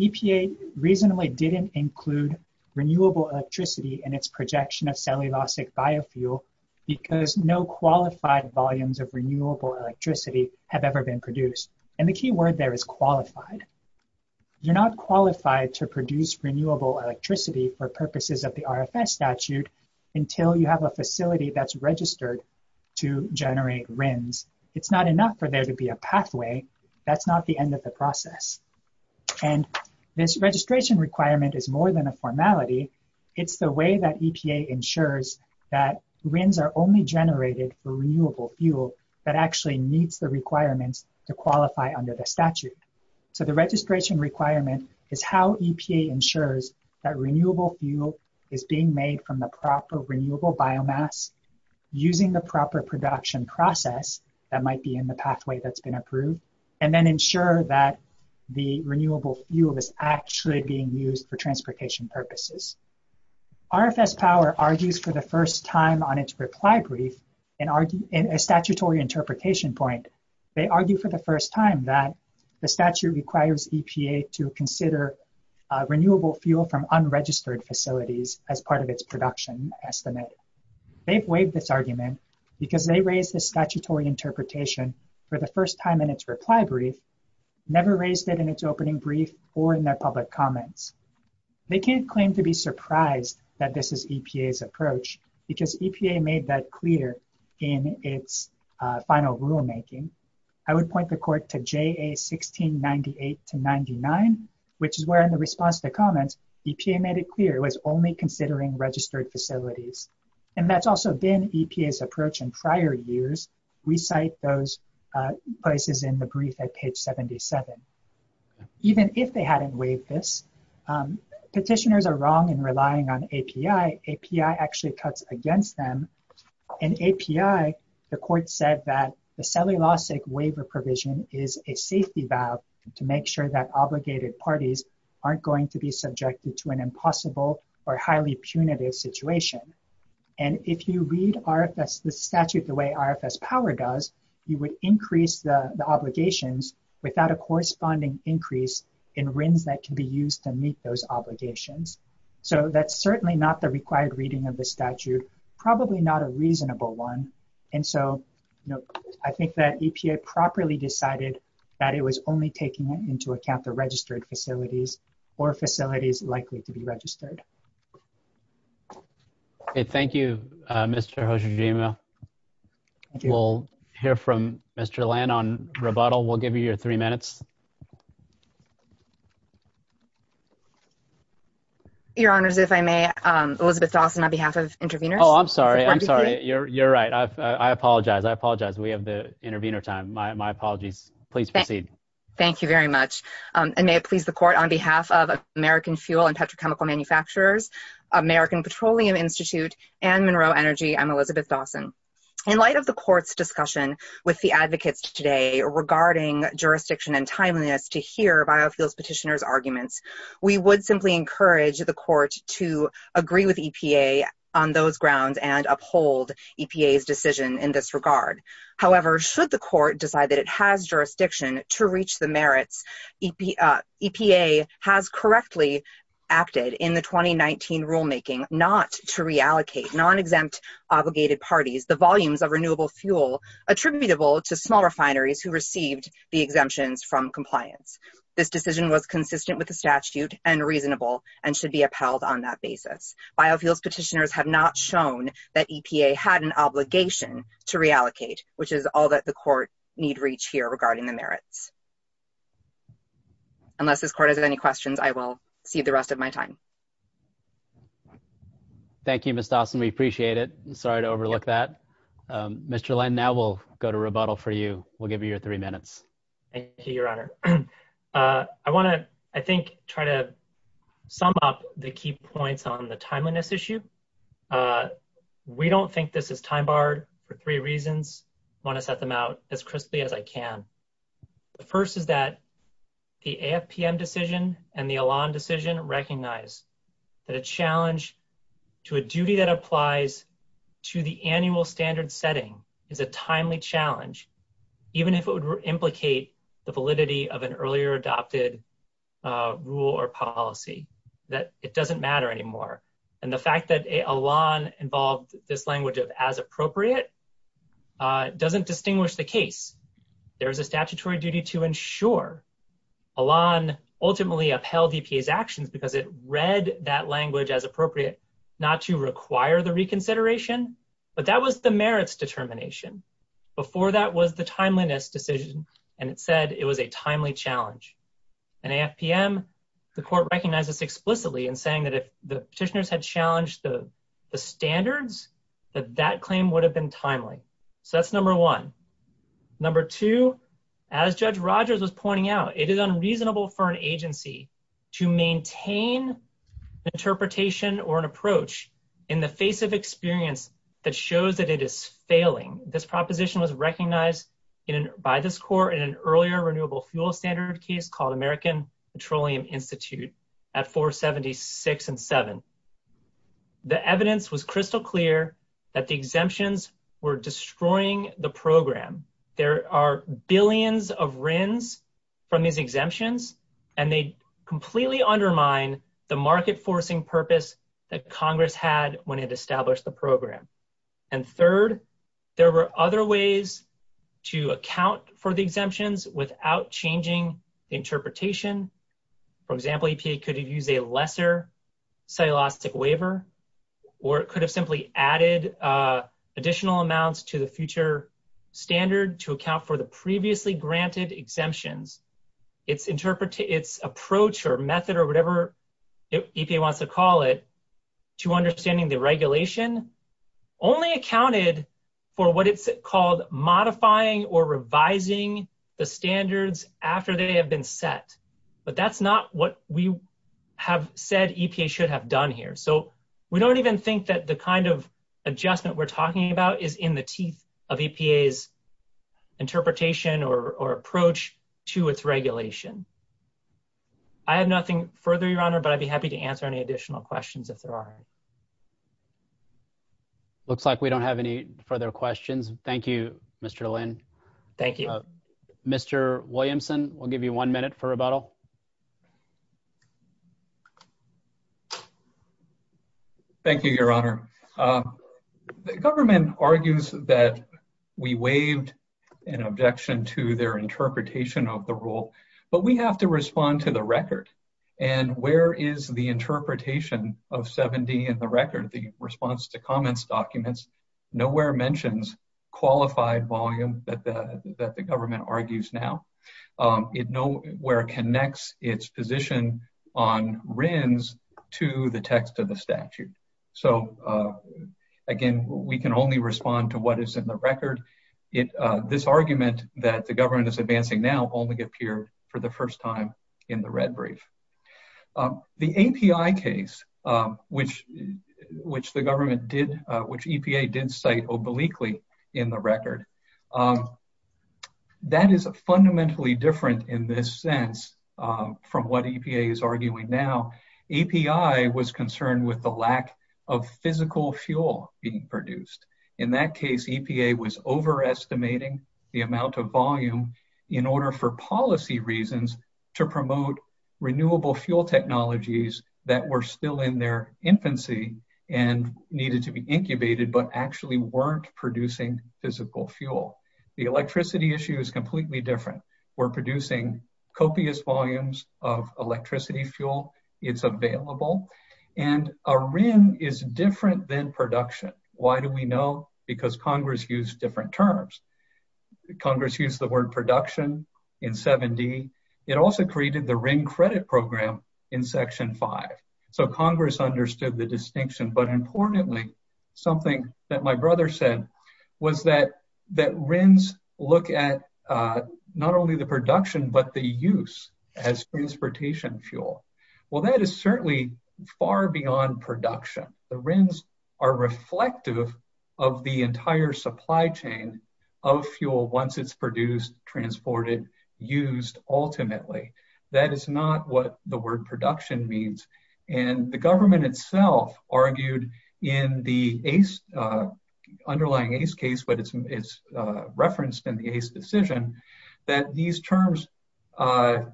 EPA reasonably didn't include renewable electricity in its projection of cellulosic biofuel because no qualified volumes of renewable electricity have ever been produced and the key word there is qualified. You're not qualified to produce renewable electricity for purposes of the RFS statute until you have a facility that's registered to generate RIMS. It's not enough for there to be a pathway. That's not the end of the process and this registration requirement is more than a formality. It's the way that EPA ensures that RIMS are only generated for renewable fuel that actually meets the requirements to qualify under the statute. So the registration requirement is how EPA ensures that renewable fuel is being made from the proper renewable biomass using the proper production process that might be in the pathway that's been approved and then ensure that the renewable fuel is actually being used for transportation purposes. RFS power argues for the first time on its reply brief in a statutory interpretation point. They argue for the first time that the statute requires EPA to consider renewable fuel from unregistered facilities as part of its production estimate. They've waived this argument because they raised the statutory interpretation for the first time in its reply brief, never raised it in its opening brief or in their public comments. They can't claim to be surprised that this is EPA's approach because EPA made that clear in its final rulemaking. I would point the court to JAA 1698 to 99 which is where in the response to comments EPA made it clear it was only considering registered facilities and that's also been EPA's approach in prior years. We cite those places in the brief at page 77. Even if they hadn't waived this, petitioners are wrong in relying on API. API actually cuts against them. In API the court said that the cellulosic waiver provision is a safety valve to make sure that obligated parties aren't going to be subjected to an impossible or highly punitive situation. And if you read RFS the statute the way RFS power does, you would increase the obligations without a corresponding increase in RINs that can be used to meet those obligations. So that's certainly not the required reading of the statute, probably not a properly decided that it was only taking into account the registered facilities or facilities likely to be registered. Thank you, Mr. Hojima. We'll hear from Mr. Lann on rebuttal. We'll give you your three minutes. Your honors, if I may, Elizabeth Dawson on behalf of intervener. Oh, I'm sorry. I'm sorry. You're right. I apologize. I apologize. We have the intervener time. My apologies. Please proceed. Thank you very much. And may it please the court on behalf of American Fuel and Petrochemical Manufacturers, American Petroleum Institute, and Monroe Energy, I'm Elizabeth Dawson. In light of the court's discussion with the advocates today regarding jurisdiction and timeliness to hear biofuels petitioners arguments, we would simply encourage the court to agree with EPA on those grounds and uphold EPA's decision in this regard. However, should the court decide that it has jurisdiction to reach the merits, EPA has correctly acted in the 2019 rulemaking not to reallocate non-exempt obligated parties the volumes of renewable fuel attributable to small refineries who received the exemptions from compliance. This decision was consistent with the statute and reasonable and should be upheld on that basis. Biofuels petitioners have not shown that EPA had an obligation to reallocate, which is all that the court need reach here regarding the merits. Unless this court has any questions, I will cede the rest of my time. Thank you, Ms. Dawson. We appreciate it. I'm sorry to overlook that. Mr. Lin, now we'll go to rebuttal for you. We'll give you your three minutes. Thank you, Your Honor. I want to, I think, try to sum up the key points on the timeliness issue. We don't think this is time-barred for three reasons. I want to set them out as crisply as I can. The first is that the AFPM decision and the Elan decision recognize that a challenge to a duty that applies to the annual standard setting is a timely challenge, even if it would implicate the validity of an earlier adopted rule or policy, that it doesn't matter anymore. And the fact that Elan involved this language as appropriate doesn't distinguish the case. There is a statutory duty to ensure. Elan ultimately upheld EPA's actions because it read that language as appropriate not to require the reconsideration, but that was the merits determination. Before that was the timeliness decision, and it said it was a timely challenge. In AFPM, the court recognizes explicitly in saying that if the petitioners had challenged the standards, that that claim would have been timely. So that's number one. Number two, as Judge Rogers was pointing out, it is unreasonable for an agency to maintain interpretation or an approach in the face of experience that shows that it is failing. This proposition was recognized by this court in an earlier renewable fuel standard case called American Petroleum Institute at 476 and 7. The evidence was crystal clear that the exemptions were destroying the program. There are billions of RINs from these exemptions, and they completely undermine the market-forcing purpose that Congress had when it established the program. And third, there were other ways to account for the exemptions without changing interpretation. For example, EPA could have used a lesser cellulosic waiver, or it could have simply added additional amounts to the future standard to account for the previously granted exemptions. Its approach or method or whatever EPA wants to call it, to understanding the regulation, only accounted for what it's called modifying or revising the standards after they have been set. But that's not what we have said EPA should have done here. So we don't even think that the kind of adjustment we're talking about is in the teeth of EPA's interpretation or approach to its regulation. I have nothing further, Your Honor, but I'd be happy to answer any additional questions if there are any. Looks like we don't have any further questions. Thank you, Mr. Lin. Thank you. Mr. Williamson, we'll give you one minute for rebuttal. Thank you, Your Honor. The government argues that we waived an objection to their interpretation of the rule, but we have to respond to the record. And where is the interpretation of 7D in the record? The response to comments documents nowhere mentions qualified volume that the government argues now. It nowhere connects its position on RINs to the text of the statute. So again, we can only respond to what is in the record. This argument that the government is advancing now only appeared for the first time in the red brief. The API case, which the government did, which EPA did cite obliquely in the record, that is fundamentally different in this sense from what EPA is arguing now. API was concerned with the lack of physical fuel being produced. In that case, EPA was overestimating the amount of volume in order for policy reasons to promote renewable fuel technologies that were still in their infancy and needed to be incubated but actually weren't producing physical fuel. The electricity issue is completely different. We're producing copious volumes of electricity fuel. It's available. And a RIN is different than production. Why do we know? Because Congress used different terms. Congress used the word production in 7D. It also created the RIN credit program in Section 5. So Congress understood the distinction. But importantly, something that my brother said was that RINs look at not only the production but the use as transportation fuel. Well, that is certainly far beyond production. The RINs are reflective of the entire supply chain of fuel once it's produced, transported, used, ultimately. That is not what the word production means. And the government itself argued in the underlying ACE case, but it's referenced in the ACE decision, that these terms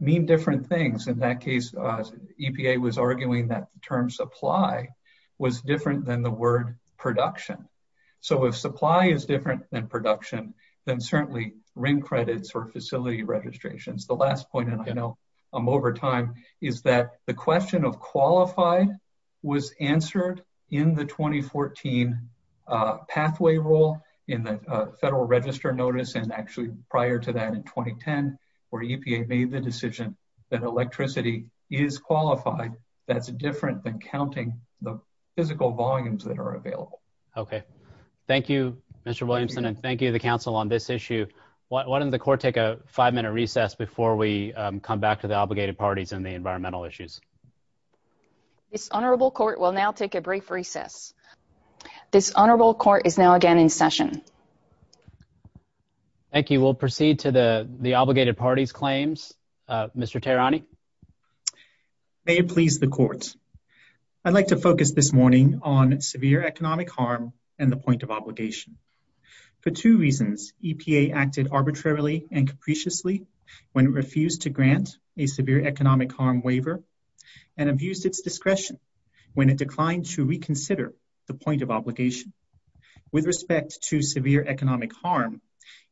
mean different things. In that case, EPA was arguing that the term supply was different than the word production. So if supply is different than production, then certainly RIN credits or facility registrations. The last point, and I know I'm over time, is that the question of qualified was answered in the 2014 pathway rule in the Federal Register notice, and actually prior to that in 2010, where EPA made the decision that electricity is qualified. That's different than counting the physical volumes that are available. Okay. Thank you, Mr. Williamson, and thank you to the Council on this issue. Why don't the Court take a five-minute recess before we come back to the obligated parties and the environmental issues. This Honorable Court will now take a brief recess. This Honorable Court is now again in session. Thank you. We'll proceed to the obligated parties' claims. Mr. Taranee? May it please the Courts. I'd like to focus this morning on severe economic harm and the point of obligation. For two reasons, EPA acted arbitrarily and capriciously when it refused to grant a severe economic harm waiver and abused its discretion when it declined to reconsider the point of obligation. With respect to severe economic harm,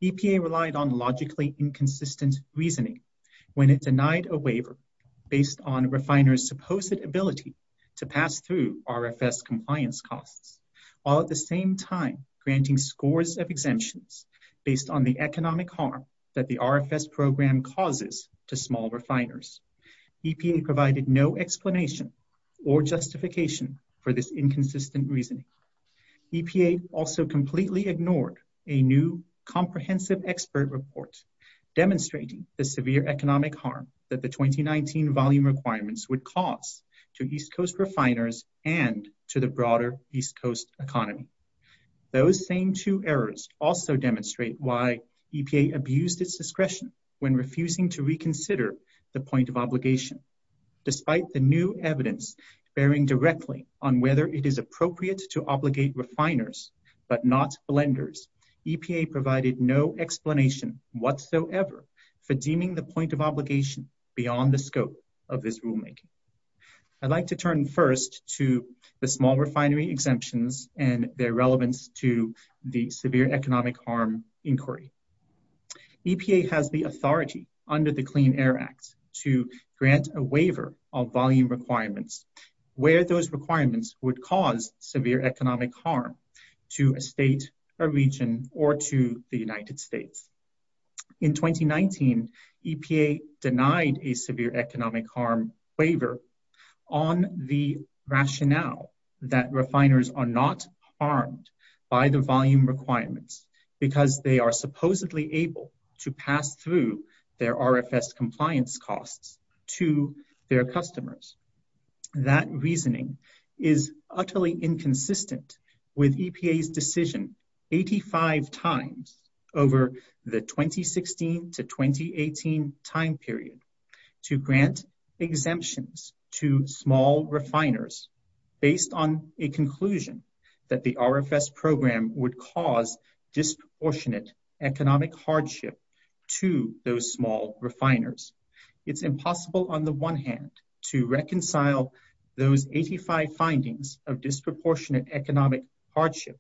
EPA relied on logically inconsistent reasoning when it denied a waiver based on a refiner's supposed ability to pass through RFS compliance costs, while at the same time granting scores of exemptions based on the economic harm that the RFS program causes to small refiners. EPA provided no explanation or justification for this inconsistent reasoning. EPA also completely ignored a new comprehensive expert report demonstrating the severe economic harm that the 2019 volume requirements would cause to East Coast refiners and to the broader East Coast economy. Those same two errors also demonstrate why EPA abused its discretion when refusing to reconsider the point of obligation, despite the new evidence bearing directly on whether it is appropriate to obligate refiners but not blenders. EPA provided no explanation whatsoever for deeming the point of obligation beyond the scope of this rulemaking. I'd like to turn first to the small refinery exemptions and their relevance to the severe economic harm inquiry. EPA has the authority under the Clean Air Act to grant a waiver of volume requirements where those requirements would cause severe economic harm to a state, a region, or to the United States. In 2019, EPA denied a severe economic harm waiver on the rationale that refiners are not harmed by the volume requirements because they are supposedly able to pass through their RFS compliance costs to their customers. That reasoning is utterly inconsistent with EPA's decision 85 times over the 2016 to 2018 time period to grant exemptions to small refiners based on a conclusion that the RFS program would cause disproportionate economic hardship to those small refiners. It's impossible on the one hand to reconcile those 85 findings of disproportionate economic hardship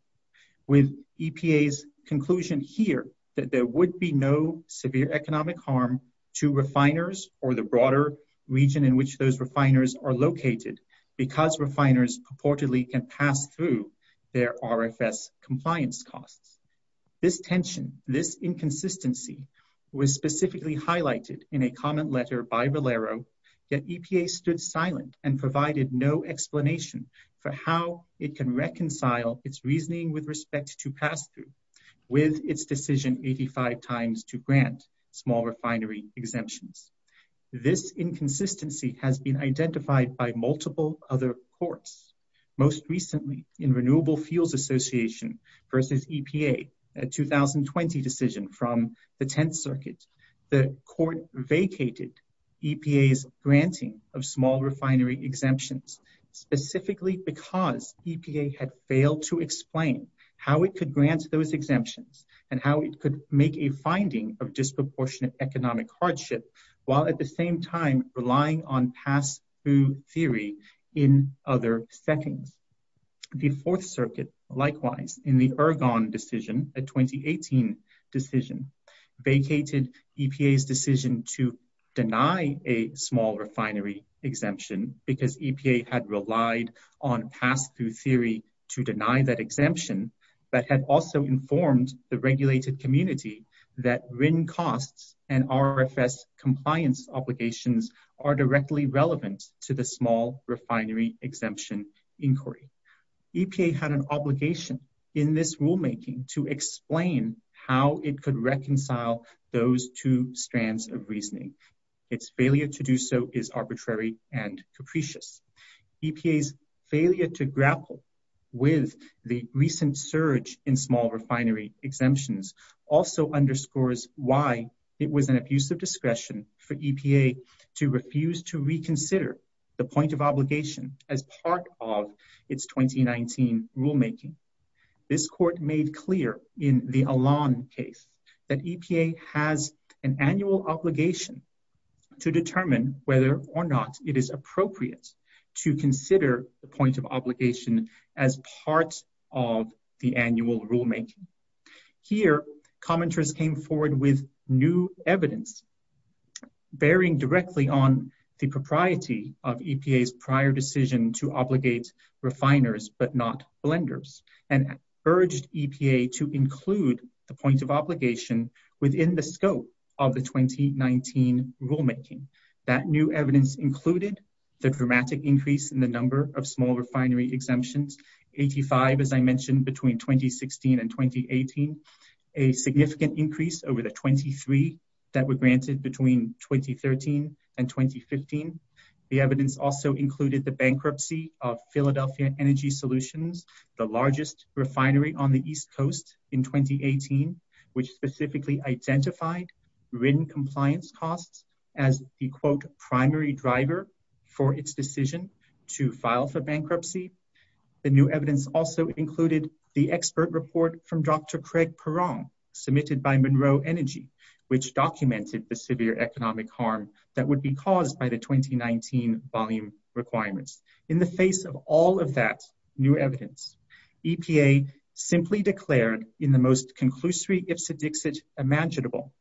with EPA's conclusion here that there would be no severe economic harm to refiners or the broader region in which those refiners are located because refiners purportedly can pass through their RFS compliance costs. This tension, this inconsistency, was specifically highlighted in a comment letter by Valero that EPA stood silent and provided no explanation for how it can reconcile its reasoning with respect to pass-through with its decision 85 times to grant small refinery exemptions. This inconsistency has been identified by multiple other courts, most recently in the Fields Association versus EPA, a 2020 decision from the Tenth Circuit. The court vacated EPA's granting of small refinery exemptions specifically because EPA had failed to explain how it could grant those exemptions and how it could make a finding of disproportionate economic hardship while at the same time relying on pass-through theory in other settings. The Fourth Circuit, likewise, in the Ergon decision, a 2018 decision, vacated EPA's decision to deny a small refinery exemption because EPA had relied on pass-through theory to deny that exemption but had also informed the regulated community that RIN costs and RFS compliance obligations are directly relevant to the small refinery exemption inquiry. EPA had an obligation in this rulemaking to explain how it could reconcile those two strands of reasoning. Its failure to do so is arbitrary and capricious. EPA's failure to grapple with the recent surge in small refinery exemptions also underscores why it was an abuse of discretion for EPA to refuse to reconsider the point of obligation as part of its 2019 rulemaking. This court made clear in the Alon case that EPA has an annual obligation to determine whether or not it is appropriate to consider the point of obligation as part of the annual rulemaking. Here, commenters came forward with new evidence bearing directly on the propriety of EPA's prior decision to obligate refiners but not blenders and urged EPA to include the point of obligation within the scope of the 2019 rulemaking. That new evidence included the dramatic increase in the number of small refinery exemptions, 85 as I mentioned between 2016 and 2018, a significant increase over the 23 that were granted between 2013 and 2015. The evidence also included the bankruptcy of Philadelphia Energy Solutions, the largest refinery on the East Coast in 2018, which specifically identified written compliance costs as the quote primary driver for its decision to file for bankruptcy. The new evidence also included the expert report from Dr. Craig Perron, submitted by Monroe Energy, which documented the economic harm that would be caused by the 2019 volume requirements. In the face of all of that new evidence, EPA simply declared in the most conclusive way imaginable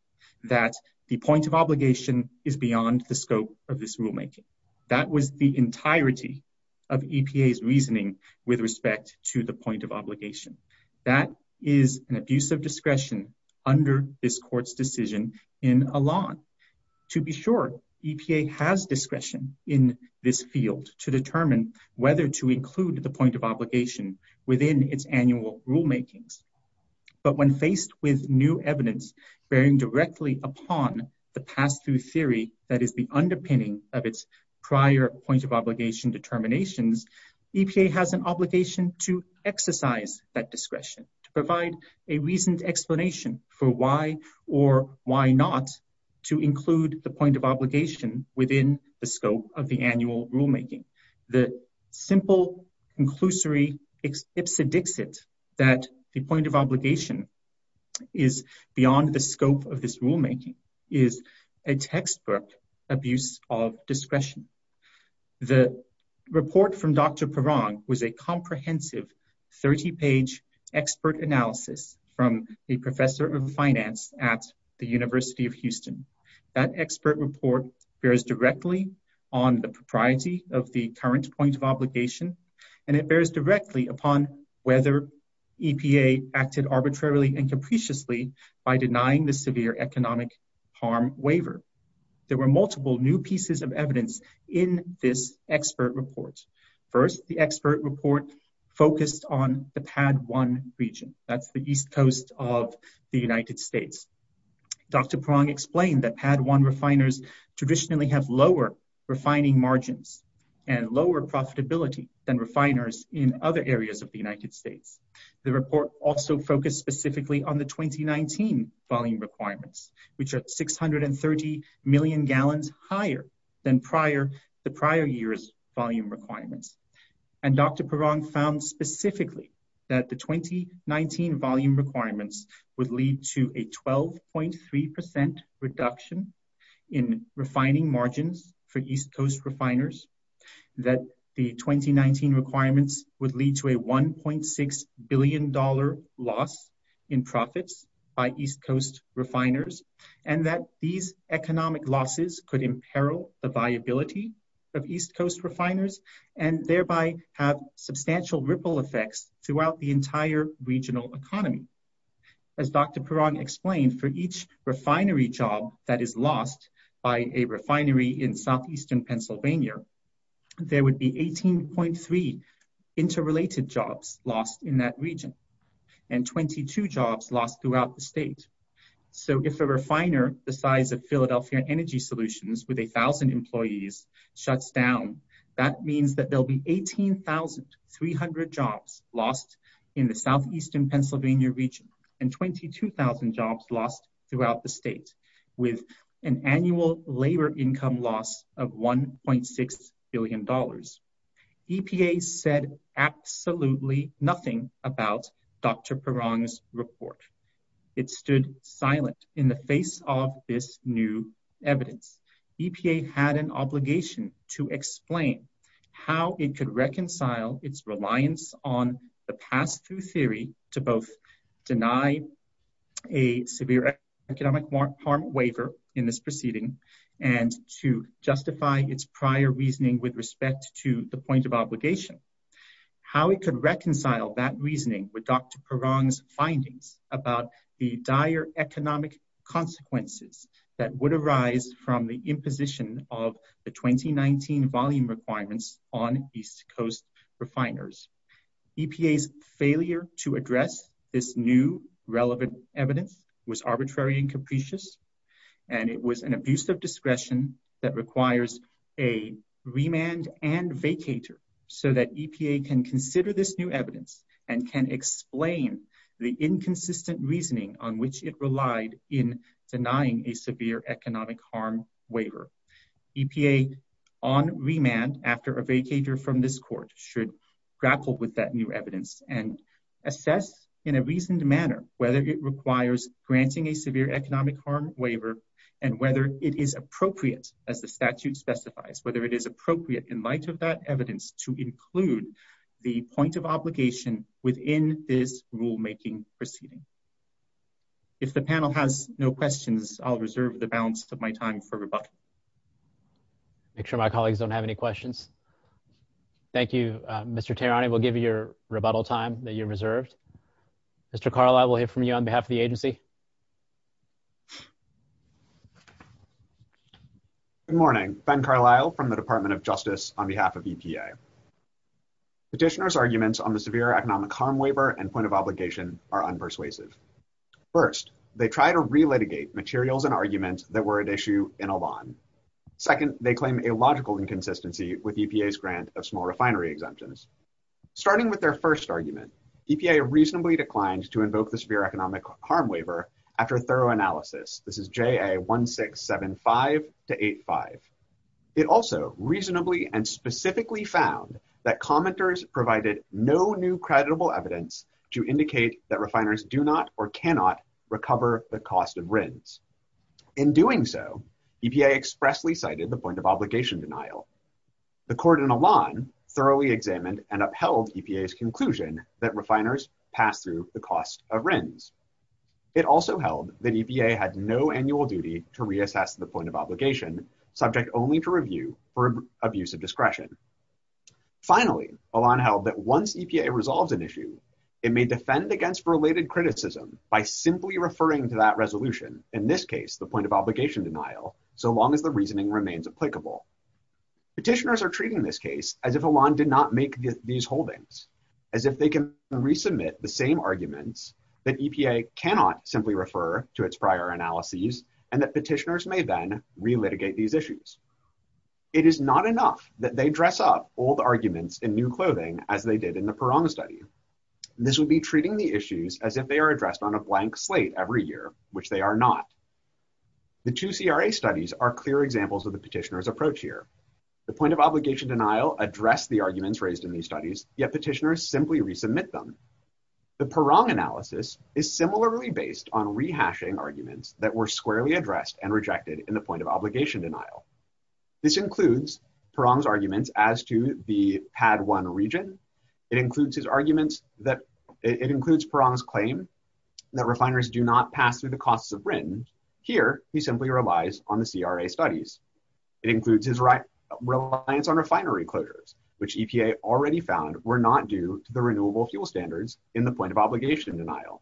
that the point of obligation is beyond the scope of this rulemaking. That was the entirety of EPA's reasoning with respect to the point of obligation. That is an abuse of discretion under this court's decision in Elan. To be sure, EPA has discretion in this field to determine whether to include the point of obligation within its annual rulemakings. But when faced with new evidence bearing directly upon the pass-through theory that is the underpinning of its prior point of obligation determinations, EPA has an obligation to exercise that discretion, to provide a reasoned explanation for why or why not to include the point of obligation within the scope of the annual rulemaking. The simple conclusory ipsedixit that the point of obligation is beyond the scope of this rulemaking is a textbook abuse of discretion. The report from Dr. Perron was a comprehensive 30-page expert analysis from a professor of finance at the University of Houston. That expert report bears directly on the propriety of the current point of obligation and it bears directly upon whether EPA acted arbitrarily and capriciously by denying the severe economic harm waiver. There were multiple new pieces of evidence in this expert report. First, the expert report focused on the East Coast of the United States. Dr. Perron explained that Pad 1 refiners traditionally have lower refining margins and lower profitability than refiners in other areas of the United States. The report also focused specifically on the 2019 volume requirements, which are 630 million gallons higher than the prior year's volume requirements. And Dr. Perron found specifically that the 2019 volume requirements would lead to a 12.3% reduction in refining margins for East Coast refiners, that the 2019 requirements would lead to a $1.6 billion loss in profits by East Coast refiners, and that these economic losses could imperil the viability of East Coast refiners and thereby have substantial ripple effects throughout the entire regional economy. As Dr. Perron explained, for each refinery job that is lost by a refinery in southeastern Pennsylvania, there would be 18.3 interrelated jobs lost in that region and 22 jobs lost throughout the state. So if a refiner the size of Philadelphia Energy Solutions with a thousand employees shuts down, that means that there'll be 18,300 jobs lost in the southeastern Pennsylvania region and 22,000 jobs lost throughout the state with an annual labor income loss of $1.6 billion. EPA said absolutely nothing about Dr. Perron's report. It stood silent in the face of this new evidence. EPA had an obligation to explain how it could reconcile its reliance on the pass-through theory to both deny a severe economic harm waiver in this proceeding and to justify its prior reasoning with respect to the point of obligation. How it could reconcile that reasoning with Dr. Perron's findings about the dire economic consequences that would arise from the imposition of the 2019 volume requirements on East Coast refiners. EPA's failure to address this new relevant evidence was arbitrary and capricious and it was an abuse of discretion that requires a remand and vacator so that EPA can consider this new evidence and can explain the inconsistent reasoning on which it relied in denying a severe economic harm waiver. EPA on remand after a vacator from this court should grapple with that new evidence and assess in a the statute specifies whether it is appropriate in light of that evidence to include the point of obligation within this rulemaking proceeding. If the panel has no questions, I'll reserve the balance of my time for rebuttal. Make sure my colleagues don't have any questions. Thank you, Mr. Tarani. We'll give you your rebuttal time that you reserved. Mr. Carlisle, we'll hear from you on behalf of the agency. Good morning. Ben Carlisle from the Department of Justice on behalf of EPA. Petitioner's arguments on the severe economic harm waiver and point of obligation are unpersuasive. First, they try to relitigate materials and arguments that were at issue in a bond. Second, they claim a logical inconsistency with EPA's grant of small refinery exemptions. Starting with their first argument, EPA reasonably declined to invoke the EPA 1675-85. It also reasonably and specifically found that commenters provided no new creditable evidence to indicate that refiners do not or cannot recover the cost of RINs. In doing so, EPA expressly cited the point of obligation denial. The court in Elan thoroughly examined and upheld EPA's conclusion that refiners pass through the cost of RINs. It also held that EPA had no annual duty to reassess the point of obligation, subject only to review for abuse of discretion. Finally, Elan held that once EPA resolves an issue, it may defend against related criticism by simply referring to that resolution, in this case, the point of obligation denial, so long as the reasoning remains applicable. Petitioners are treating this case as if Elan did not make these holdings, as if they can resubmit the same arguments that EPA cannot simply refer to its prior analyses, and that petitioners may then re-litigate these issues. It is not enough that they dress up old arguments in new clothing as they did in the Perron study. This would be treating the issues as if they are addressed on a blank slate every year, which they are not. The two CRA studies are clear examples of the petitioner's approach here. The point of obligation denial addressed the arguments raised in these studies, yet petitioners simply resubmit them. The Perron analysis is similarly based on rehashing arguments that were squarely addressed and rejected in the point of obligation denial. This includes Perron's arguments as to the Pad 1 region. It includes Perron's claim that refiners do not pass through the costs of RINs. Here, he simply relies on the CRA studies. It includes his reliance on refinery closures, which EPA already found were not due to the renewable fuel standards in the point of obligation denial.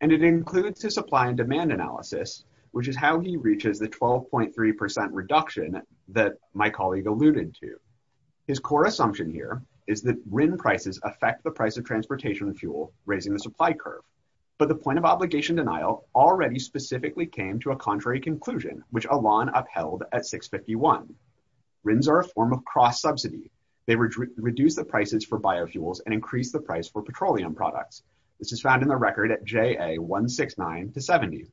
It includes his supply and demand analysis, which is how he reaches the 12.3% reduction that my colleague alluded to. His core assumption here is that RIN prices affect the price of transportation fuel, raising the supply curve. The point of obligation denial already specifically came to a contrary conclusion, which Alon upheld at 651. RINs are a form of cross-subsidy. They reduce the prices for biofuels and increase the price for petroleum products. This is found in the record at JA 169 to 70.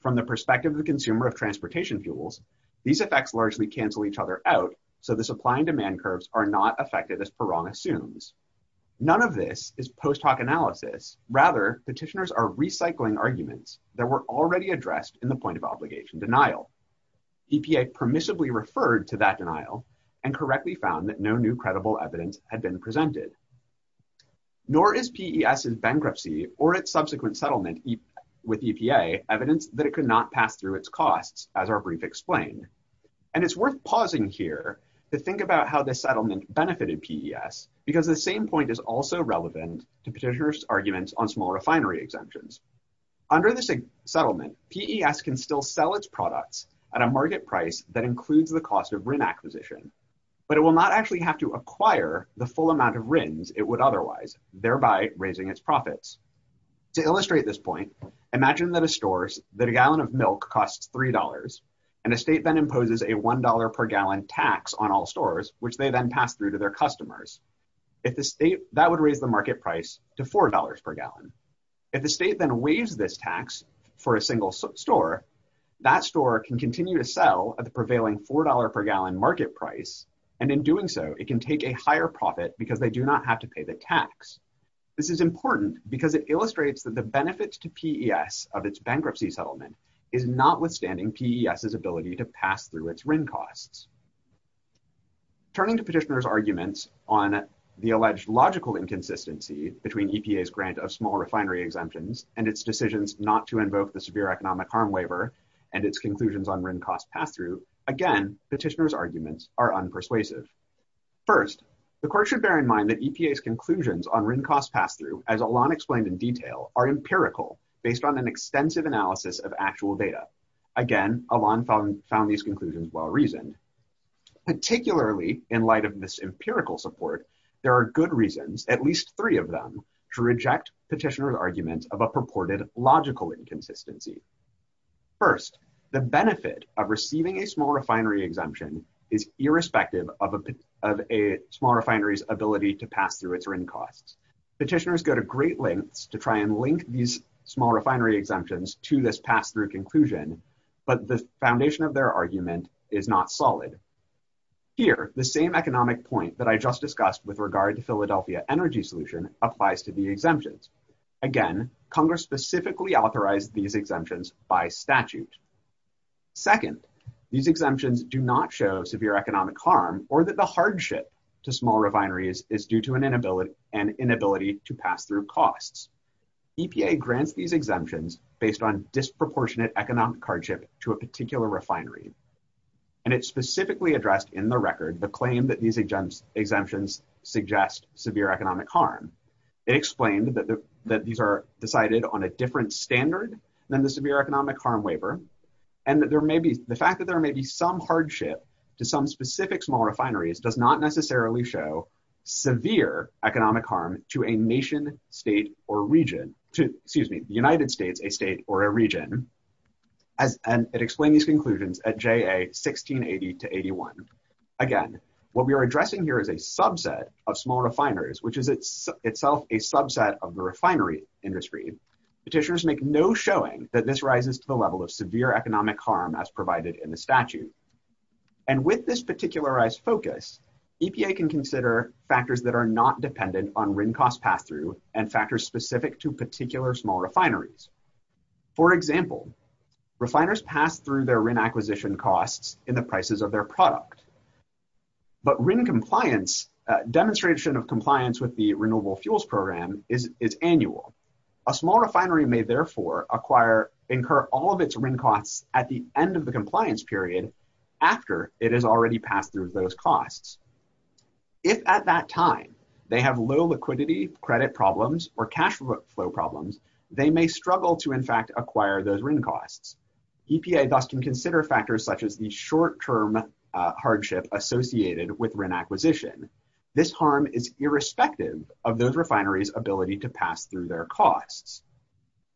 From the perspective of the consumer of transportation fuels, these effects largely cancel each other out, so the supply and demand curves are not affected as Perron assumes. None of this is post hoc analysis. Rather, petitioners are recycling arguments that were already addressed in the point of obligation denial. EPA permissively referred to that denial and correctly found that no new credible evidence had been presented. Nor is PES's bankruptcy or its subsequent settlement with EPA evidence that it could not pass through its costs, as our brief explained. And it's worth pausing here to think about how the settlement benefited PES, because the same point is also relevant to petitioners' arguments on small refinery exemptions. Under this settlement, PES can still sell its products at a market price that includes the cost of RIN acquisition, but it will not actually have to acquire the full amount of RINs it would otherwise, thereby raising its profits. To illustrate this point, imagine that a gallon of milk costs $3, and a state then imposes a $1 per gallon tax on all stores, which they then pass through to their customers. If the state, that would raise the market price to $4 per gallon. If the state then raised this tax for a single store, that store can continue to sell at the prevailing $4 per gallon market price, and in doing so, it can take a higher profit because they do not have to pay the tax. This is important because it illustrates that the benefits to PES of its bankruptcy settlement is notwithstanding PES's ability to pass through its RIN costs. Turning to petitioners' arguments on the alleged logical inconsistency between EPA's grant of small refinery exemptions and its decisions not to invoke the severe economic harm waiver, and its conclusions on RIN cost pass-through, again, petitioners' arguments are unpersuasive. First, the court should bear in mind that EPA's conclusions on RIN cost pass-through, as Alon explained in detail, are empirical, based on an extensive analysis of actual data. Again, Alon found these conclusions well-reasoned. Particularly in light of this empirical support, there are good reasons, at least three of them, to reject petitioners' arguments of a purported logical inconsistency. First, the benefit of receiving a small refinery exemption is irrespective of a small refinery's ability to pass through its RIN costs. Petitioners go to but the foundation of their argument is not solid. Here, the same economic point that I just discussed with regard to Philadelphia Energy Solution applies to the exemptions. Again, Congress specifically authorized these exemptions by statute. Second, these exemptions do not show severe economic harm or that the hardship to small refineries is due to an inability to pass costs. EPA grants these exemptions based on disproportionate economic hardship to a particular refinery. It specifically addressed in the record the claim that these exemptions suggest severe economic harm. It explained that these are decided on a different standard than the severe economic harm waiver. The fact that there may be some hardship to some specific small refineries does not necessarily show severe economic harm to a nation, state, or region. Excuse me, the United States, a state, or a region. It explained these conclusions at JA 1680-81. Again, what we are addressing here is a subset of small refineries, which is itself a subset of the refinery industry. Petitioners make no showing that this rises to the level of severe economic harm as provided in the statute. And with this particularized focus, EPA can consider factors that are not dependent on RIN cost pass-through and factors specific to particular small refineries. For example, refiners pass through their RIN acquisition costs in the prices of their product. But RIN compliance, demonstration of compliance with the Renewable Fuels Program is annual. A small refinery may, therefore, incur all of its RIN costs at the end of the compliance period after it has already passed through those costs. If at that time they have low liquidity, credit problems, or cash flow problems, they may struggle to, in fact, acquire those RIN costs. EPA thus can consider factors such as the short-term hardship associated with RIN acquisition. This harm is irrespective of those refineries' ability to pass through their costs.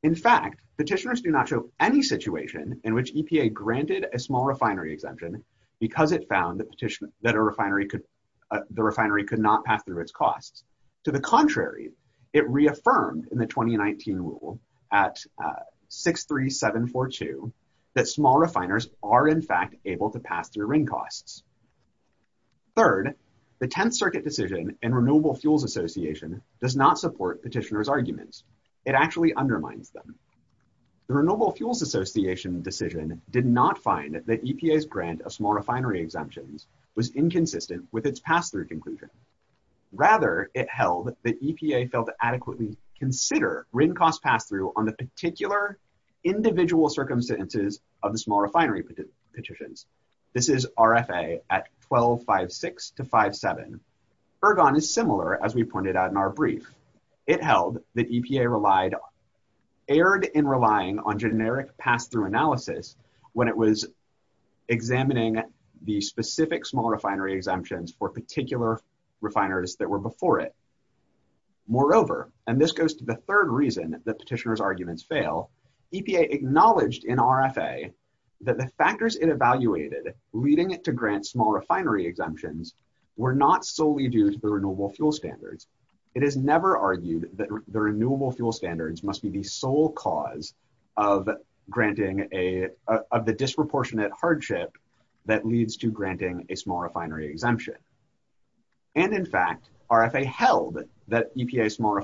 In fact, petitioners do not show any situation in which EPA granted a small refinery exemption because it found that the refinery could not pass through its costs. To the contrary, it reaffirmed in the 2019 rule at 63742 that small refiners are, in fact, able to pass through RIN costs. Third, the Tenth Circuit decision and Renewable Fuels Association does not support petitioners' arguments. It actually undermines them. The Renewable Fuels Association decision did not find that EPA's grant of small refinery exemptions was inconsistent with its pass-through conclusion. Rather, it held that EPA failed to adequately consider RIN cost pass-through on the individual circumstances of the small refinery petitions. This is RFA at 1256-57. Ergon is similar, as we pointed out in our brief. It held that EPA erred in relying on generic pass-through analysis when it was examining the specific small refinery exemptions for particular refiners that were before it. Moreover, and this goes to the third reason that petitioners' arguments fail, EPA acknowledged in RFA that the factors it evaluated leading it to grant small refinery exemptions were not solely due to the Renewable Fuel Standards. It has never argued that the Renewable Fuel Standards must be the sole cause of the disproportionate hardship that leads to granting a small refinery exemption. And, in fact, RFA held that EPA's small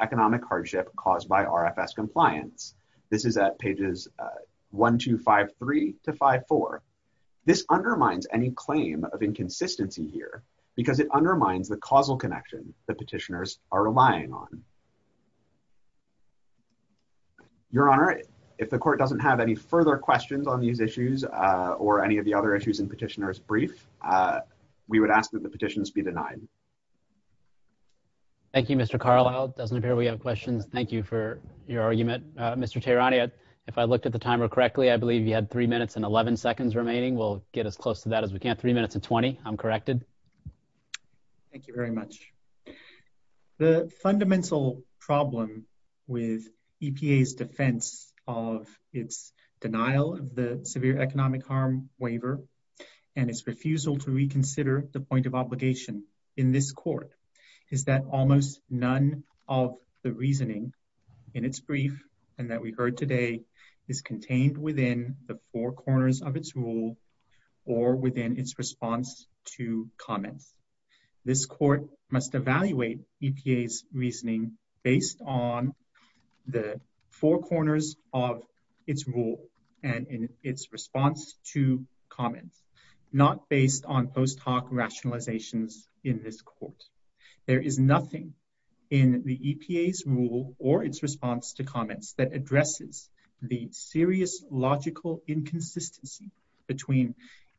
economic hardship caused by RFS compliance. This is at pages 1253-54. This undermines any claim of inconsistency here because it undermines the causal connection the petitioners are relying on. Your Honor, if the Court doesn't have any further questions on these issues or any of the other issues in Petitioner's Brief, we would ask that the petitions be denied. Thank you, Mr. Carlisle. It doesn't appear we have questions. Thank you for your argument. Mr. Tehrani, if I looked at the timer correctly, I believe you had three minutes and 11 seconds remaining. We'll get as close to that as we can. Three minutes and 20. I'm corrected. Thank you very much. The fundamental problem with EPA's defense of its denial of the severe economic harm waiver and its refusal to reconsider the point of obligation in this Court is that almost none of the reasoning in its brief and that we heard today is contained within the four corners of its rule or within its response to comment. This Court must evaluate EPA's reasoning based on the four corners of its rule and in its response to comment, not based on post hoc rationalizations in this Court. There is nothing in the EPA's rule or its response to comments that addresses the serious logical inconsistency between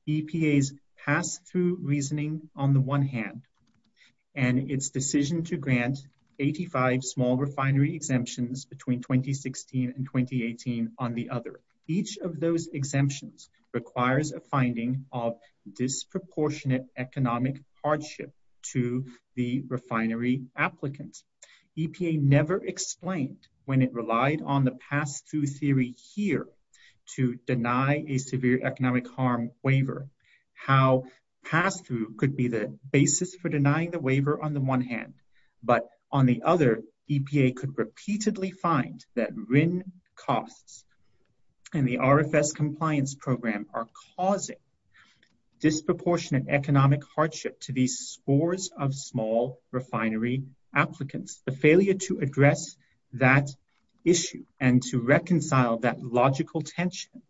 EPA's pass-through reasoning on the one hand and its decision to grant 85 small refinery exemptions between 2016 and 2018 on the other. Each of those exemptions requires a finding of disproportionate economic hardship to the refinery applicants. EPA never explained when it relied on the pass-through theory here to deny a severe economic harm waiver. How pass-through could be the basis for denying the waiver on the one hand, but on the other, EPA could repeatedly find that RIN costs and the RFS compliance program are causing disproportionate economic hardship to these scores of small refinery applicants. The failure to address that issue and to reconcile that logical tension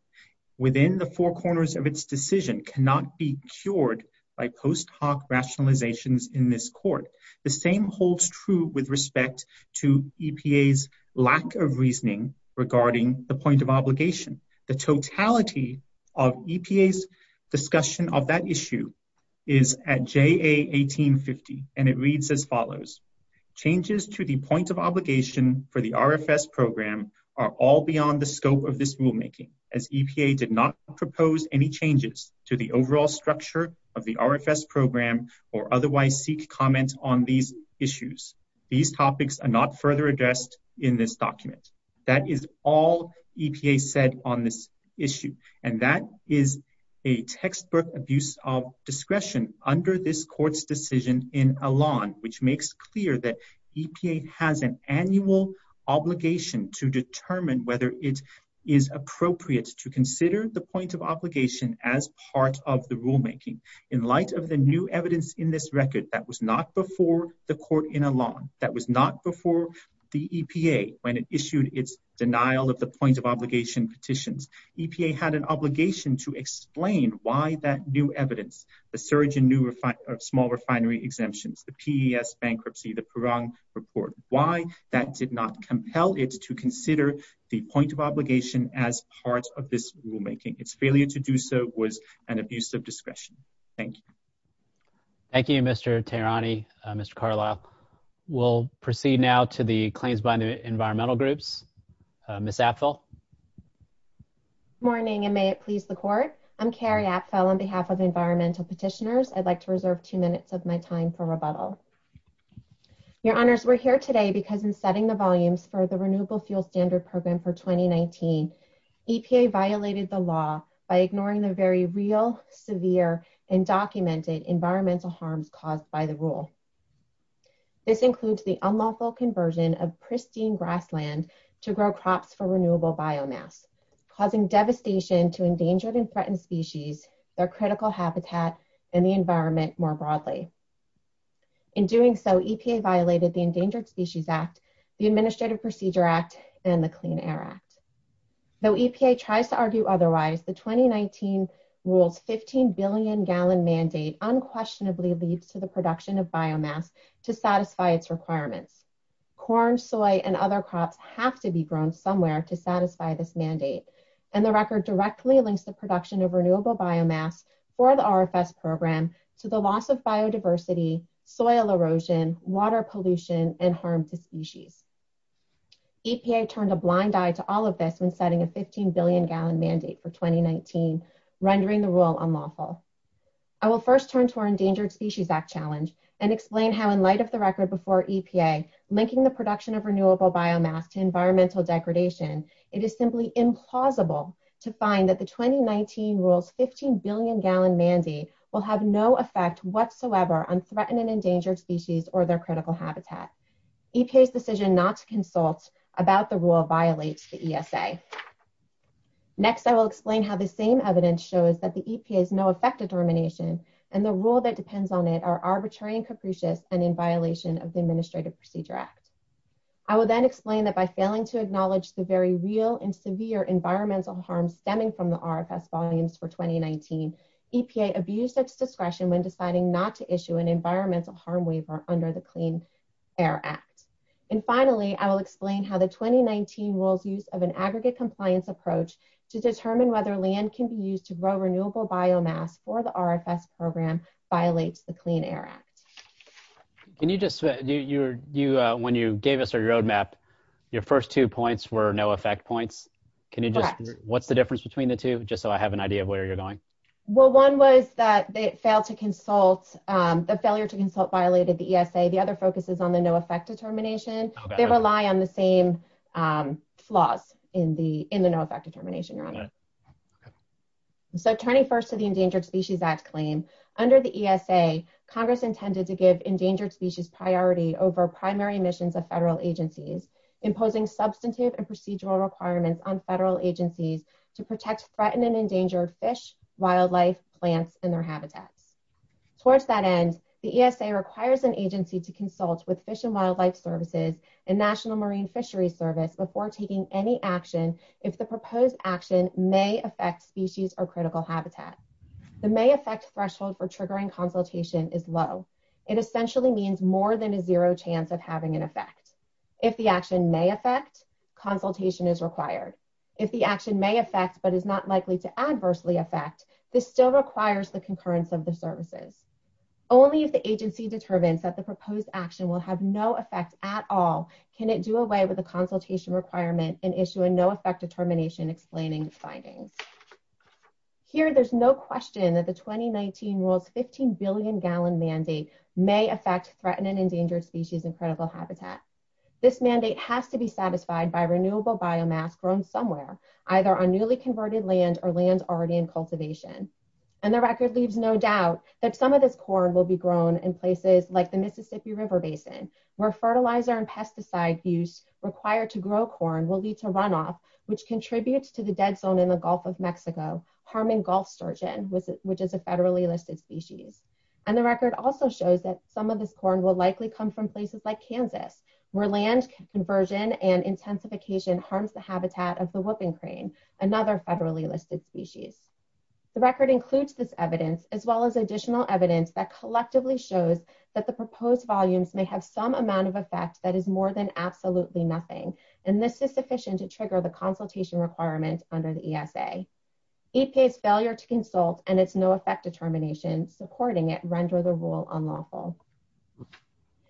within the four corners of its decision cannot be cured by post hoc rationalizations in this Court. The same holds true with respect to EPA's lack of reasoning regarding the point of obligation. The totality of EPA's discussion of that issue is at JA 1850, and it reads as follows. Changes to the point of obligation for the RFS program are all beyond the scope of this rulemaking as EPA did not propose any changes to the overall structure of the RFS program or otherwise seek comment on these issues. These topics are not further addressed in this document. That is all and that is a textbook abuse of discretion under this Court's decision in Elan which makes clear that EPA has an annual obligation to determine whether it is appropriate to consider the point of obligation as part of the rulemaking. In light of the new evidence in this record that was not before the Court in Elan, that was not before the EPA when it issued its denial of the point of obligation petitions. EPA had an obligation to explain why that new evidence, the surge in new small refinery exemptions, the PES bankruptcy, the Puran report, why that did not compel it to consider the point of obligation as part of this rulemaking. Its failure to do so was an abuse of discretion. Thank you. Thank you, Mr. Tehrani, Mr. Karloff. We'll proceed now to the claims by environmental groups. Ms. Atfill. Good morning and may it please the Court. I'm Carrie Atfill on behalf of environmental petitioners. I'd like to reserve two minutes of my time for rebuttal. Your Honors, we're here today because in setting the volumes for the Renewable Fuel Standard Program for 2019, EPA violated the law by ignoring the very real, severe, and documented environmental harm caused by the rule. This includes the unlawful conversion of pristine grassland to grow crops for renewable biomass, causing devastation to endangered and threatened species, their critical habitats, and the environment more broadly. In doing so, EPA violated the Endangered Species Act, the Administrative Procedure Act, and the Clean Air Act. Though production of biomass to satisfy its requirements. Corn, soy, and other crops have to be grown somewhere to satisfy this mandate. And the record directly links the production of renewable biomass for the RFS program to the loss of biodiversity, soil erosion, water pollution, and harm to species. EPA turned a blind eye to all of this when setting a 15 billion gallon mandate for 2019, rendering the rule unlawful. I will first turn to our Endangered Species Act challenge and explain how in light of the record before EPA linking the production of renewable biomass to environmental degradation, it is simply implausible to find that the 2019 rule 15 billion gallon mandate will have no effect whatsoever on threatened and endangered species or their habitat. Next, I will explain how the same evidence shows that the EPA is no effective termination and the rule that depends on it are arbitrary and capricious and in violation of the Administrative Procedure Act. I will then explain that by failing to acknowledge the very real and severe environmental harm stemming from the RFS volumes for 2019, EPA abused its discretion when deciding not to issue an environmental harm waiver under the Clean Air Act. And finally, I will explain how the 2019 rules use of an aggregate compliance approach to determine whether land can be used to grow renewable biomass or the RFS program violates the Clean Air Act. Can you just, when you gave us our roadmap, your first two points were no effect points. What's the difference between the two, just so I have an idea of where you're going? Well, one was that they failed to consult, the failure to consult violated the ESA. The other focus is on the no effect determination. They rely on the same flaws in the no effect determination, your honor. The 21st of the Endangered Species Act claim, under the ESA, Congress intended to give endangered species priority over primary missions of federal agencies, imposing substantive and procedural requirements on federal agencies to protect threatened and endangered fish, wildlife, plants, and their habitat. Towards that end, the ESA requires an agency to consult with Fish and National Marine Fisheries Service before taking any action if the proposed action may affect species or critical habitat. The may affect threshold for triggering consultation is low. It essentially means more than a zero chance of having an effect. If the action may affect, consultation is required. If the action may affect but is not likely to adversely affect, this still requires the concurrence of the services. Only if the agency determines that proposed action will have no effect at all, can it do away with the consultation requirement and issue a no effect determination explaining the findings. Here, there's no question that the 2019 rules 15 billion gallon mandate may affect threatened and endangered species and critical habitat. This mandate has to be satisfied by renewable biomass grown somewhere, either on newly converted land or land already in cultivation. And the record leaves no doubt that some of this river basin, where fertilizer and pesticides used required to grow corn will lead to runoff, which contributes to the dead zone in the Gulf of Mexico, Harmon Gulf Sturgeon, which is a federally listed species. And the record also shows that some of this corn will likely come from places like Kansas, where land conversion and intensification harms the habitat of the whooping crane, another federally listed species. The record includes this evidence, as well as additional evidence that collectively shows that the proposed volumes may have some amount of effects that is more than absolutely nothing. And this is sufficient to trigger the consultation requirements under the ESA. EPA's failure to consult and its no effect determination supporting it, render the rule unlawful.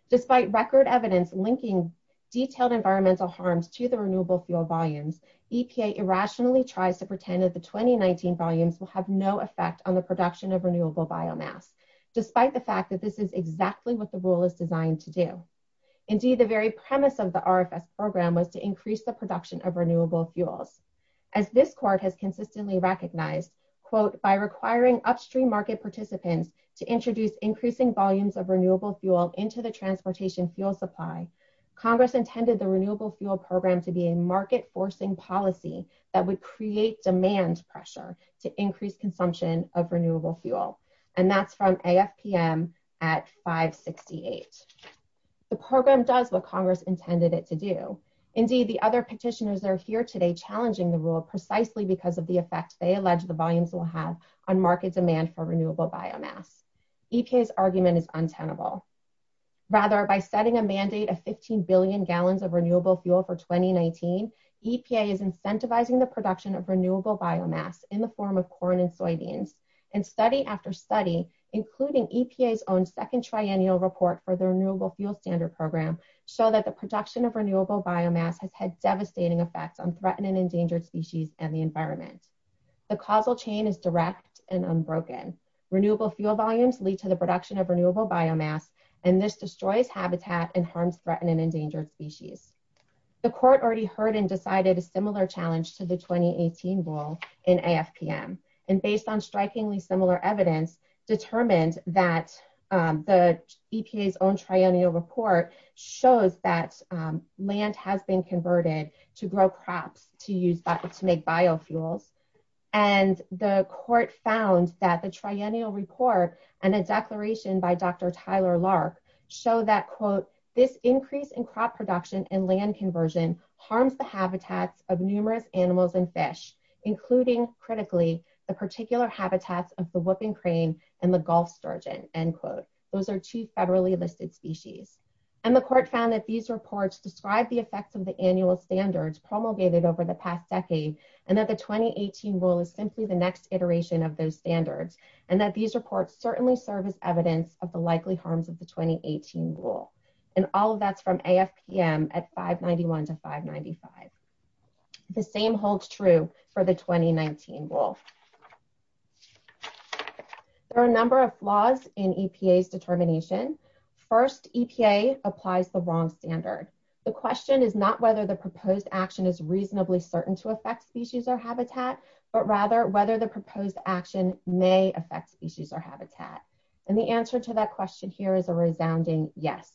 Despite record evidence linking detailed environmental harms to the renewable fuel volumes, EPA irrationally tries to pretend that the 2019 volumes will have no effect on the production of renewable biomass, despite the fact that this is exactly what the rule is designed to do. Indeed, the very premise of the RFS program was to increase the production of renewable fuels. As this court has consistently recognized, quote, by requiring upstream market participants to introduce increasing volumes of renewable fuels into the transportation fuel supply, Congress intended the renewable fuel program to be a market forcing policy that would demand pressure to increase consumption of renewable fuel. And that's from AFPM at 568. The program does what Congress intended it to do. Indeed, the other petitioners are here today challenging the rule precisely because of the effects they allege the volumes will have on market demand for renewable biomass. EPA's argument is untenable. Rather, by setting a mandate of 15 billion gallons of renewable fuel for 2019, EPA is incentivizing the production of renewable biomass in the form of corn and soybeans. And study after study, including EPA's own second triennial report for the Renewable Fuel Standard Program, show that the production of renewable biomass has had devastating effects on threatened and endangered species and the environment. The causal chain is direct and unbroken. Renewable fuel volumes lead to the production of renewable biomass, and this destroys habitat and harms threatened and in AFPM. And based on strikingly similar evidence, determined that the EPA's own triennial report shows that land has been converted to grow crops to make biofuel. And the court found that the triennial report and a declaration by Dr. Tyler Lark show that, quote, this increase in including critically the particular habitats of the whooping crane and the Gulf sturgeon, end quote. Those are two federally listed species. And the court found that these reports describe the effects of the annual standards promulgated over the past decade, and that the 2018 rule is simply the next iteration of those standards, and that these reports certainly serve as evidence of the likely harms of the 2018 rule. And all of that's from AFPM at 591 to 595. The same holds true for the 2019 rule. There are a number of flaws in EPA's determination. First, EPA applies the wrong standard. The question is not whether the proposed action is reasonably certain to affect species or habitat, but rather whether the proposed action may affect species or habitat. And the answer to that question here is a resounding yes.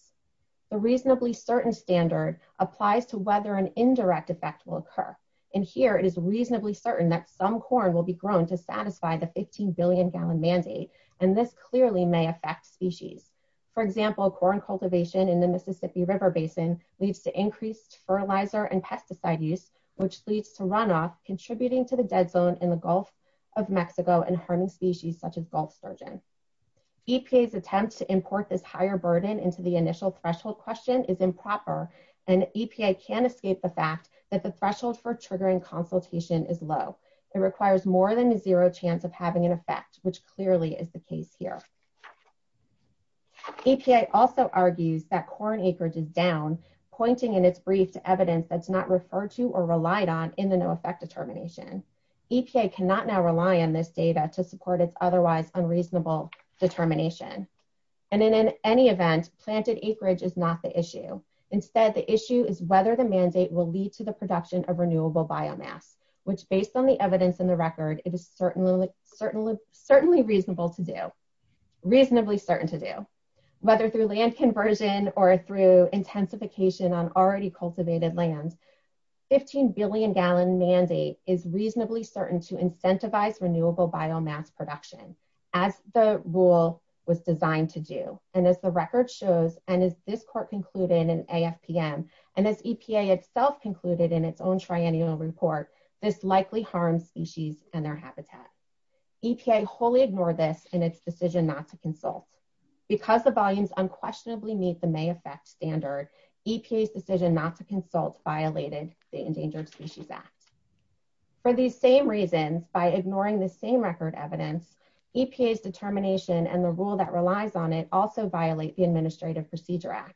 The reasonably certain standard applies to whether an indirect effect will occur. And here it is reasonably certain that some corn will be grown to satisfy the 15 billion gallon mandate. And this clearly may affect species. For example, corn cultivation in the Mississippi River Basin leads to increased fertilizer and pesticide use, which leads to runoff contributing to the dead bone in the Gulf of Mexico and harming species such as Gulf sturgeon. EPA's attempt to import this higher burden into the initial threshold question is improper, and EPA can't escape the fact that the threshold for triggering consultation is low. It requires more than a zero chance of having an effect, which clearly is the case here. EPA also argues that corn acres is down, pointing in its brief to evidence that's not referred to or relied on in the no effect determination. EPA cannot now rely on this data to support otherwise unreasonable determination. And in any event, planted acreage is not the issue. Instead, the issue is whether the mandate will lead to the production of renewable biomass, which based on the evidence in the record, it is certainly reasonable to do, reasonably certain to do. Whether through land conversion or through intensification on already cultivated land, 15 billion gallon mandate is reasonably certain to incentivize renewable biomass production, as the rule was designed to do. And as the record shows, and as this court concluded in AFPM, and as EPA itself concluded in its own triennial report, this likely harms species and their habitat. EPA wholly ignored this in its decision not to consult. Because the volumes unquestionably meet the may affect standard, EPA's decision not to consult violated the Endangered Species Act. For these same reasons, by ignoring the same record evidence, EPA's determination and the rule that relies on it also violate the Administrative Procedure Act.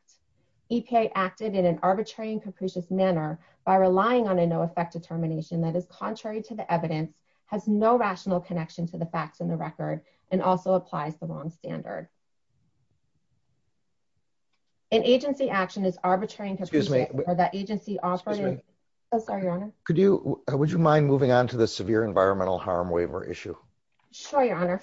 EPA acted in an arbitrary and capricious manner by relying on a no effect determination that is contrary to the evidence, has no rational connection to the facts in the record, and also applies the wrong standard. An agency action is arbitrary and capricious. Excuse me. For the agency offering. Excuse me. I'm sorry, Your Honor. Could you, would you mind moving on to the severe environmental harm waiver issue? Sure, Your Honor.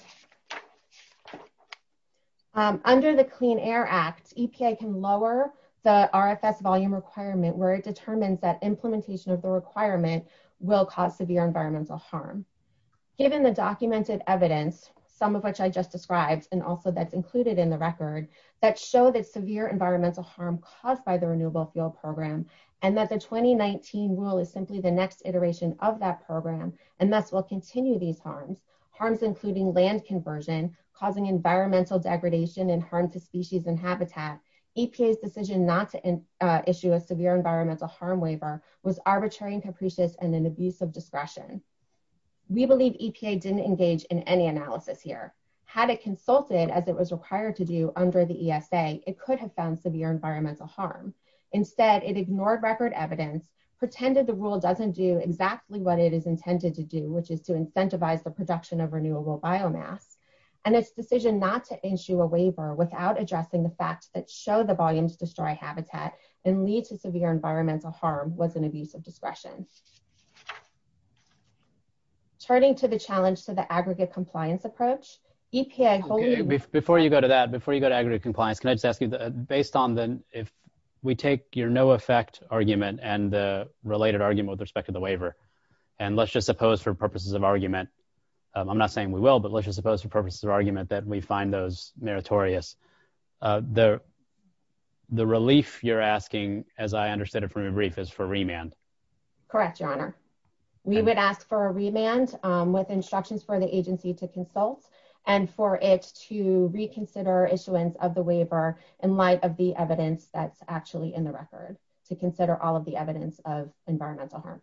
Under the Clean Air Act, EPA can lower the RFS volume requirement where it determines that implementation of the requirement will cause severe environmental harm. Given the documented evidence, some of which I just described, and also that's included in the record, that show that severe environmental harm caused by the Renewable Fuel Program, and that the 2019 rule is simply the next iteration of that program, and that will continue these harms. Harms including land conversion, causing environmental degradation and harm to species and habitat. EPA's decision not to issue a severe environmental harm waiver was arbitrary and capricious and an abuse of discretion. We believe EPA didn't engage in any analysis here. Had it consulted as it was required to do under the ESA, it could have found severe environmental harm. Instead, it ignored record evidence, pretended the rule doesn't do exactly what it is intended to do, which is to incentivize the production of renewable biomass. And its decision not to issue a waiver without addressing the facts that show the volumes destroy habitat and lead to severe environmental harm was an abuse of discretion. Turning to the challenge to the aggregate compliance approach, EPA... Before you go to that, before you go to aggregate compliance, can I just ask you, based on the, if we take your no effect argument and the related argument with respect to the waiver, and let's just suppose for purposes of argument, I'm not saying we will, but let's just suppose for purposes of argument that we find those meritorious. The relief you're asking, as I understood it from your brief, is for remand. Correct, your honor. We would ask for a remand with instructions for the agency to consult and for it to reconsider issuance of the waiver in light of the evidence that's actually in the record to consider all of the evidence of environmental harm.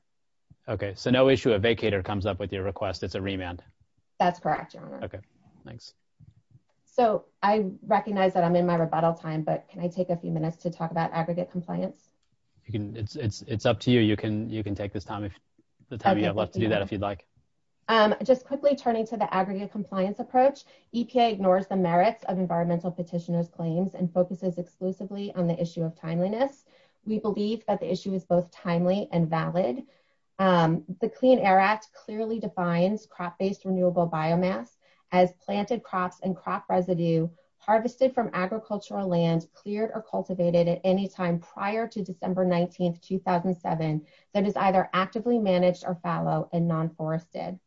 Okay, so no issue, a vacator comes up with your request, it's a remand. That's correct, your honor. Okay, thanks. So I recognize that I'm in my rebuttal time, but can I take a few minutes to talk about aggregate compliance? It's up to you, you can take this time if the time you have left to do that if you'd like. Just quickly turning to the aggregate compliance approach, EPA ignores the merits of environmental petitioner's claims and focuses exclusively on the issue of timeliness. We believe that the issue is both timely and valid. The Clean Air Act clearly defines crop-based renewable biomass as planted crops and crop residue harvested from agricultural land cleared or cultivated at any time prior to December 19, 2007 that is either actively managed or fallow and non-forested.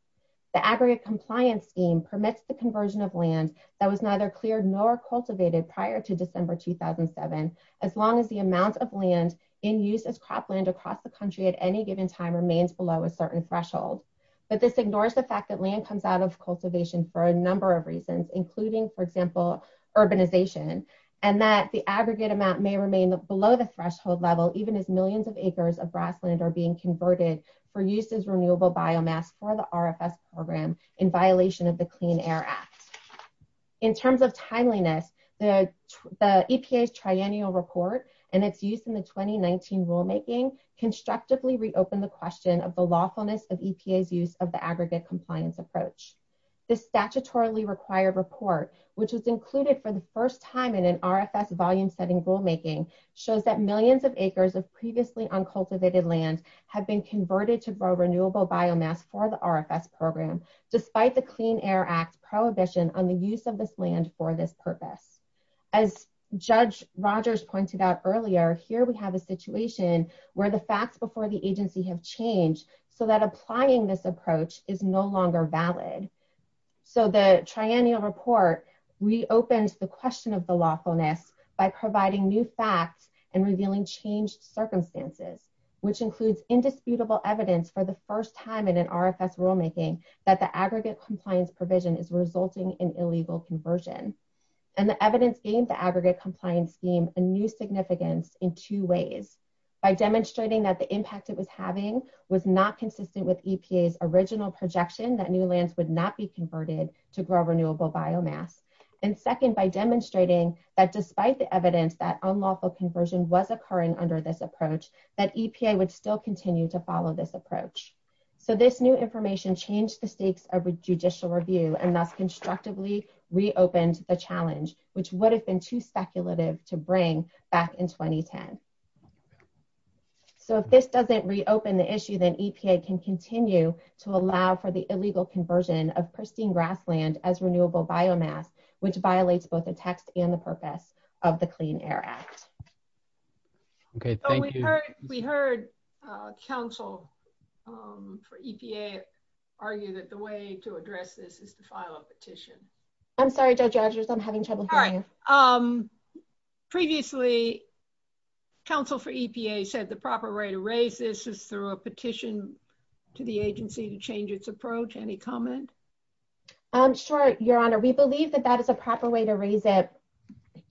The aggregate compliance scheme permits the conversion of land that was neither cleared nor cultivated prior to December 2007 as long as the amount of land in use of cropland across the country at any given time remains below a certain threshold. But this ignores the fact that land comes out of cultivation for a number of reasons including, for example, urbanization and that the aggregate amount may remain below the threshold level even as millions of acres of grassland are being converted for use as renewable biomass for the RFS program in violation of the Clean Air Act. In terms of timeliness, the EPA's triennial report and its use in the 2019 rulemaking constructively reopen the question of the lawfulness of EPA's use of the aggregate compliance approach. The statutorily required report, which was included for the first time in an RFS volume setting rulemaking, shows that millions of acres of previously uncultivated land have been converted to grow renewable biomass for the RFS program despite the Clean Air Act prohibition on the use of this land for this purpose. As Judge Rogers pointed out earlier, here we have a situation where the facts before the agency have changed so that applying this approach is no longer valid. So the triennial report reopens the question of the lawfulness by providing new facts and revealing changed circumstances, which includes indisputable evidence for the first time in an RFS rulemaking that the aggregate compliance provision is resulting in illegal conversion. And the evidence gained the aggregate compliance scheme a new significance in two ways. By demonstrating that the impact it was having was not consistent with EPA's original projection that new lands would not be converted to grow renewable biomass. And second, by demonstrating that despite the evidence that unlawful conversion was occurring under this approach, that EPA would still continue to follow this approach. So this new information changed the stakes of judicial review and thus constructively reopened the challenge, which would have been too speculative to bring back in 2010. So if this doesn't reopen the issue, then EPA can continue to allow for the illegal conversion of pristine grassland as renewable biomass, which violates both the text and the purpose of the Clean Air Act. Okay, thank you. We heard counsel for EPA argue that the way to address this is to file a petition. I'm sorry, Judge Rogers, I'm having trouble hearing you. Previously, counsel for EPA said the proper way to raise this is through a petition to the agency to change its approach. Any comments? Sure, Your Honor. We believe that that is a proper way to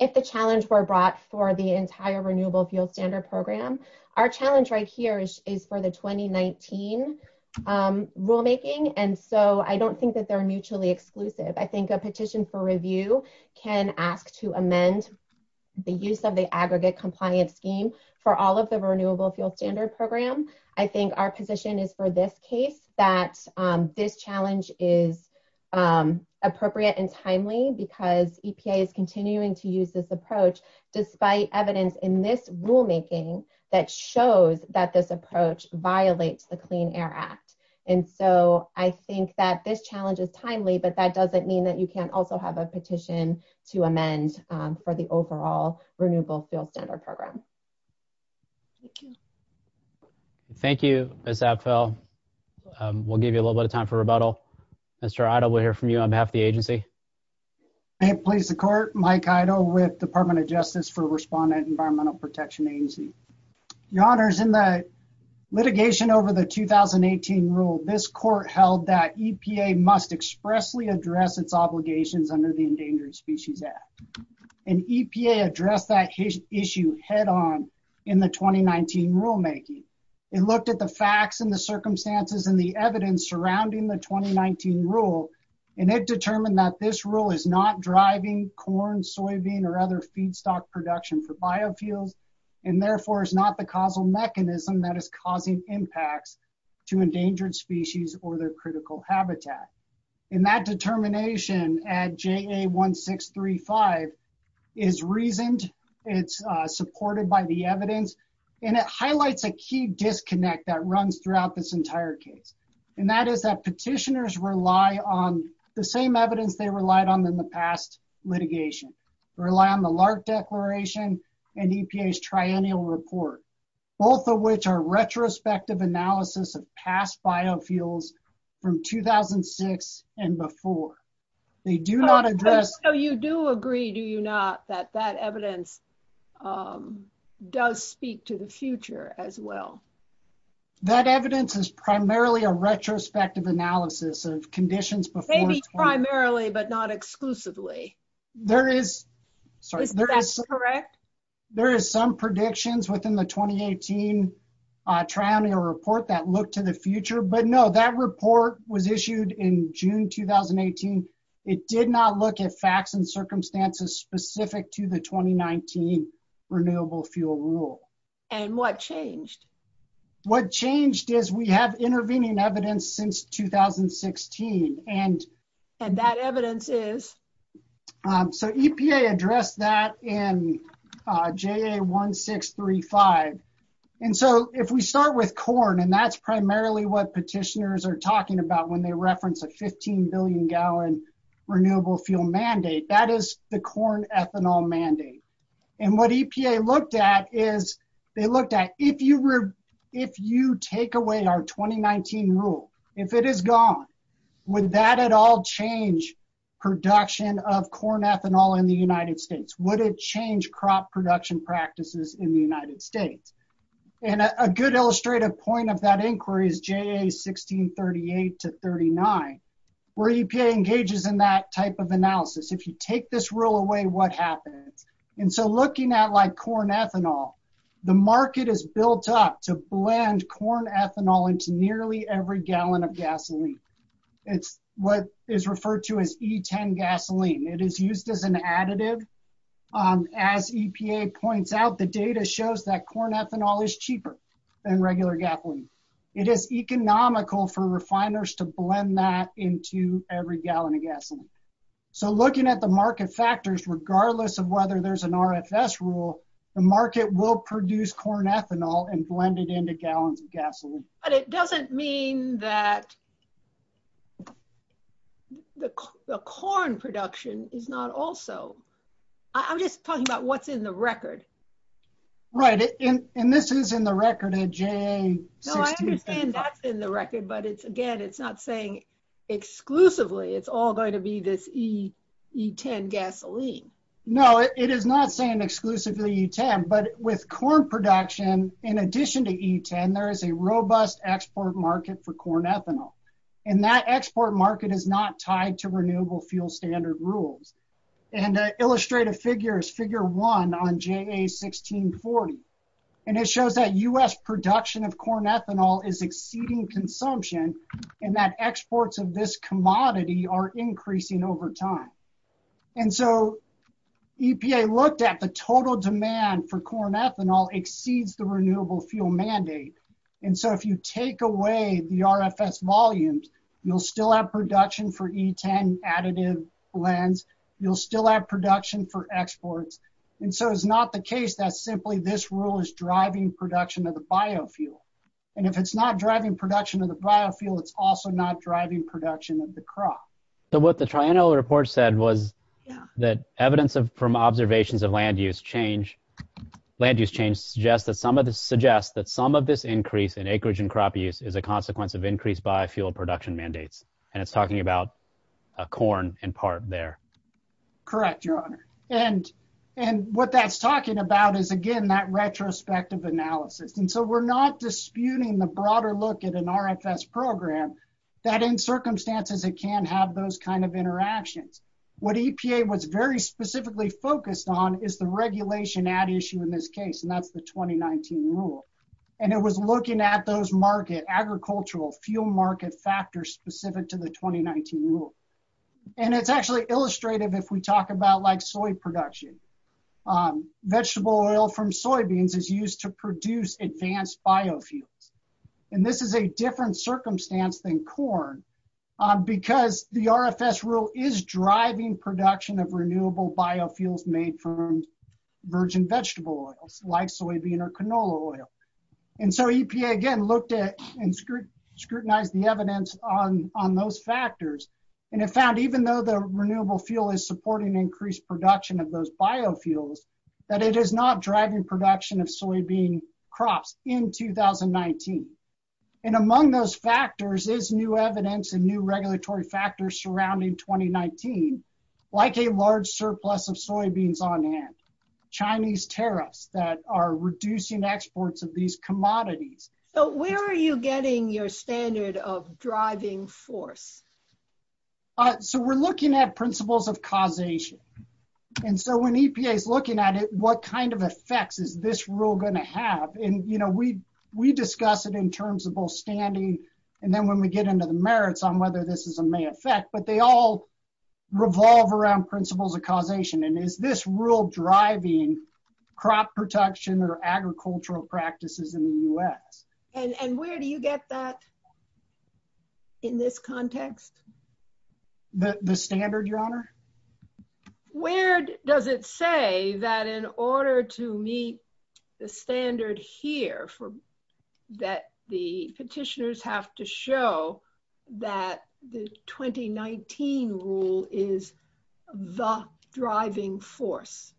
if the challenge were brought for the entire Renewable Fuel Standard Program. Our challenge right here is for the 2019 rulemaking, and so I don't think that they're mutually exclusive. I think a petition for review can ask to amend the use of the aggregate compliance scheme for all of the Renewable Fuel Standard Program. I think our position is for this case, that this challenge is appropriate and timely because EPA is continuing to use this approach despite evidence in this rulemaking that shows that this approach violates the Clean Air Act. And so I think that this challenge is timely, but that doesn't mean that you can't also have a petition to amend for the overall Renewable Fuel Standard Program. Thank you. Thank you, Ms. Abtfeld. We'll give you a little bit of time for rebuttal. Mr. Idle, we'll hear from you on behalf of the agency. I have placed the court, Mike Idle, with Department of Justice for Respondent Environmental Protection Agency. Your Honors, in the litigation over the 2018 rule, this court held that EPA must expressly address its obligations under the Endangered Issue head on in the 2019 rulemaking. It looked at the facts and the circumstances and the evidence surrounding the 2019 rule, and it determined that this rule is not driving corn, soybean, or other feedstock production for biofuels, and therefore is not the causal mechanism that is causing impacts to endangered species or their critical habitat. And that supported by the evidence, and it highlights a key disconnect that runs throughout this entire case, and that is that petitioners rely on the same evidence they relied on in the past litigation. They rely on the Lark Declaration and EPA's Triennial Report, both of which are retrospective analysis of past biofuels from 2006 and before. They do not address- does speak to the future as well. That evidence is primarily a retrospective analysis of conditions before- Maybe primarily, but not exclusively. Is that correct? There is some predictions within the 2018 Triennial Report that look to the future, but no, that report was issued in June 2018. It did not look at facts and circumstances specific to the 2019 Renewable Fuel Rule. And what changed? What changed is we have intervening evidence since 2016, and- And that evidence is? So, EPA addressed that in JA1635. And so, if we start with corn, and that's about when they reference a 15 billion gallon renewable fuel mandate, that is the corn ethanol mandate. And what EPA looked at is, they looked at if you were- If you take away our 2019 rule, if it is gone, would that at all change production of corn ethanol in the United States? Would it change crop production practices in the United States? And a good illustrative point of that is EPA's analysis from 1938 to 39, where EPA engages in that type of analysis. If you take this rule away, what happens? And so, looking at like corn ethanol, the market is built up to blend corn ethanol into nearly every gallon of gasoline. It's what is referred to as E10 gasoline. It is an additive. As EPA points out, the data shows that corn ethanol is cheaper than regular gasoline. It is economical for refiners to blend that into every gallon of gasoline. So, looking at the market factors, regardless of whether there's an RFS rule, the market will produce corn ethanol and blend it into a gallon of gasoline. But it doesn't mean that the corn production is not also... I'm just talking about what's in the record. Right. And this is in the record at J... No, I understand that's in the record, but again, it's not saying exclusively it's all going to be this E10 gasoline. No, it is not saying exclusively E10, but with corn production, in addition to E10, there is a robust export market for corn ethanol. And that export market is not tied to renewable fuel standard rules. And the illustrative figure is figure one on JA1640. And it shows that U.S. production of corn ethanol is exceeding consumption, and that exports of this commodity are increasing over time. And so, EPA looked at the total demand for corn ethanol exceeds the renewable fuel mandate. And so, if you take away the RFS volumes, you'll still have production for E10 additive blends. You'll still have production for exports. And so, it's not the case that simply this rule is driving production of the biofuel. And if it's not driving production of biofuel, it's also not driving production of the crop. So, what the Triennial report said was that evidence from observations of land use change, land use change suggests that some of this increase in acreage and crop use is a consequence of increased biofuel production mandates. And it's talking about corn in part there. Correct, your honor. And what that's talking about is again, that retrospective analysis. And so, we're not disputing the broader look at an RFS program that in circumstances it can have those kind of interactions. What EPA was very specifically focused on is the regulation ad issue in this case, and that's the 2019 rule. And it was looking at those market, agricultural fuel market factors specific to the 2019 rule. And it's actually illustrative if we talk about like soy production. Vegetable oil from soybeans is used to produce advanced biofuel. And this is a different circumstance than corn because the RFS rule is driving production of renewable biofuels made from virgin vegetable oils, like soybean or canola oil. And so, EPA again looked at and scrutinized the evidence on those factors. And it found even though the renewable fuel is supporting increased production of those biofuels, that it is not driving production of soybean crops in 2019. And among those factors is new evidence and new regulatory factors surrounding 2019, like a large surplus of soybeans on hand. Chinese tariffs that are reducing exports of these commodities. So, where are you getting your standard of driving force? All right. So, we're looking at principles of causation. And so, when EPA is looking at it, what kind of effects is this rule going to have? And we discuss it in terms of both standing and then when we get into the merits on whether this is a may affect. But they all revolve around principles of causation. And is this rule driving crop protection or agricultural practices in the US? And where do you get that in this context? The standard, your honor? Where does it say that in order to meet the standard here, that the petitioners have to show that the 2019 rule is the driving force?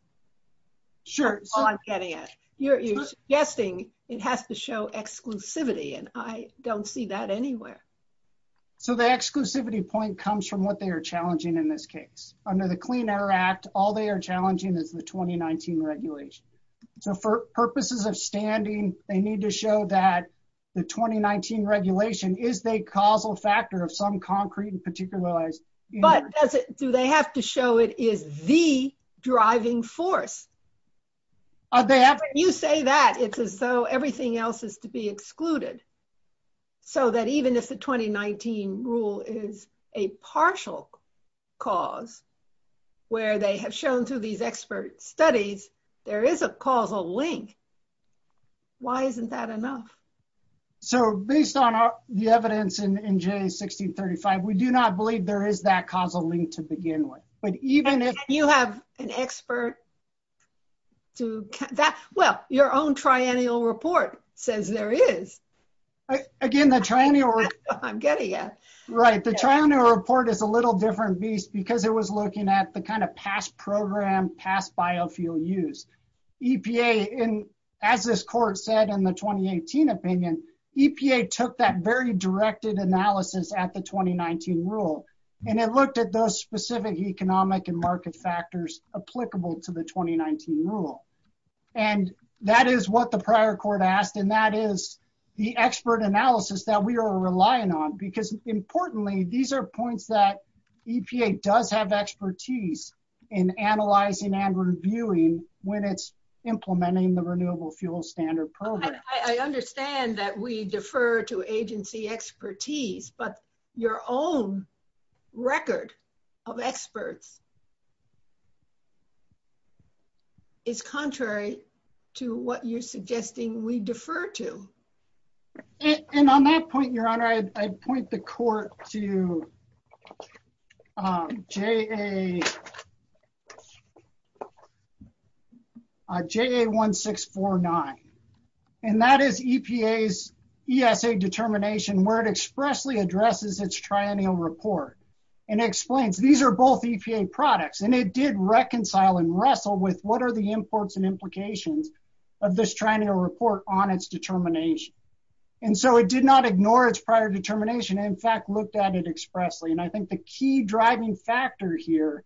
Sure. You're guessing it has to show exclusivity, and I don't see that anywhere. So, the exclusivity point comes from what they are challenging in this case. Under the Clean Air Act, all they are challenging is the 2019 regulation. So, for purposes of standing, they need to show that the 2019 regulation is a causal factor of some concrete and particularized but do they have to show it is the driving force? When you say that, it's as though everything else is to be excluded. So, that even if the 2019 rule is a partial cause where they have shown through these expert studies, there is a causal link. Why isn't that enough? So, based on the evidence in J1635, we do not believe there is that causal link to begin with. But even if you have an expert, well, your own triennial report says there is. Again, the triennial report is a little different beast because it was looking at the kind of past program, past biofuel use. EPA, as this court said in the 2018 opinion, EPA took that very directed analysis at the 2019 rule, and it looked at those specific economic and market factors applicable to the 2019 rule. And that is what the prior court asked, and that is the expert analysis that we are relying on because, importantly, these are points that EPA does have expertise in analyzing and reviewing when it's implementing the Renewable Fuel Standard Program. I understand that we defer to agency expertise, but your own record of experts is contrary to what you're suggesting we defer to. And on that point, Your Honor, I point the court to JA1649, and that is EPA's ESA determination where it expressly addresses its triennial report and explains these are both EPA products, and it did reconcile and wrestle with what are the And so, it did not ignore its prior determination. In fact, it looked at it expressly. And I think the key driving factor here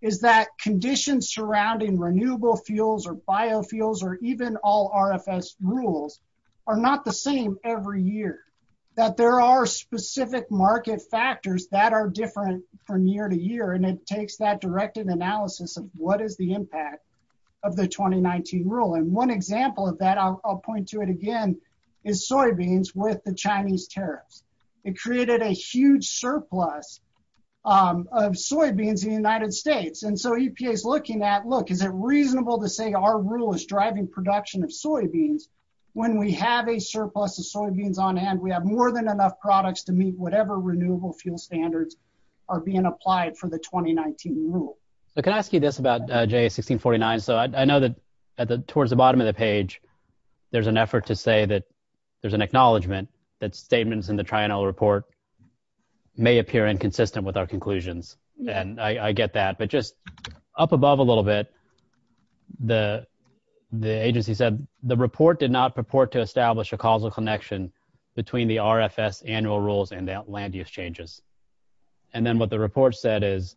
is that conditions surrounding renewable fuels or biofuels or even all RFS rules are not the same every year, that there are specific market factors that are different from year to year, and it takes that directed analysis of what is the impact of the rule. And one example of that, I'll point to it again, is soybeans with the Chinese tariffs. It created a huge surplus of soybeans in the United States. And so, EPA's looking at, look, is it reasonable to say our rule is driving production of soybeans when we have a surplus of soybeans on hand? We have more than enough products to meet whatever Renewable Fuel Standards are being applied for the 2019 rule. So, can I ask you this about GA 1649? So, I know that towards the bottom of the page, there's an effort to say that there's an acknowledgment that statements in the triennial report may appear inconsistent with our conclusions, and I get that. But just up above a little bit, the agency said the report did not purport to establish a causal connection between the RFS annual rules and the land use changes. And then what the report said is,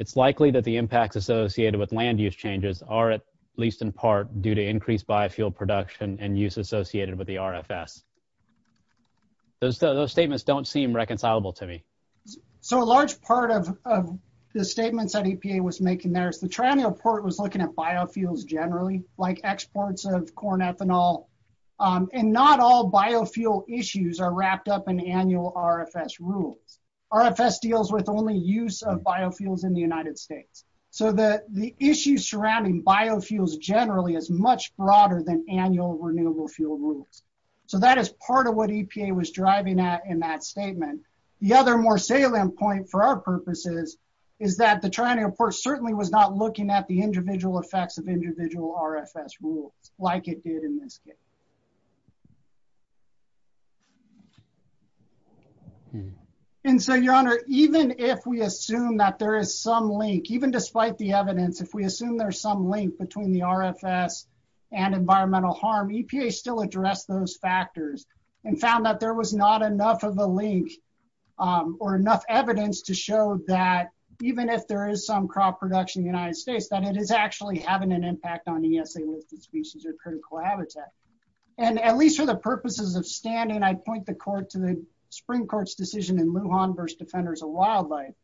it's likely that the impacts associated with land use changes are, at least in part, due to increased biofuel production and use associated with the RFS. Those statements don't seem reconcilable to me. So, a large part of the statements that EPA was making there is the triennial report was looking at biofuels generally, like exports of corn, ethanol, and not all biofuel issues are wrapped up in annual RFS rules. RFS deals with only use of biofuels in the United States. So, the issues surrounding biofuels generally is much broader than annual Renewable Fuel Rules. So, that is part of what EPA was driving at in that statement. The other more salient point for our purposes is that the triennial report certainly was not at the individual effects of individual RFS rules like it did in this case. And so, your honor, even if we assume that there is some link, even despite the evidence, if we assume there's some link between the RFS and environmental harm, EPA still addressed those factors and found that there was not enough of a link or enough evidence to show that even if there is some crop production in the United States, that it is actually having an impact on ESA listed species or critical habitat. And at least for the purposes of standing, I'd point the court to the Supreme Court's decision in Lujan v. Defenders of Wildlife,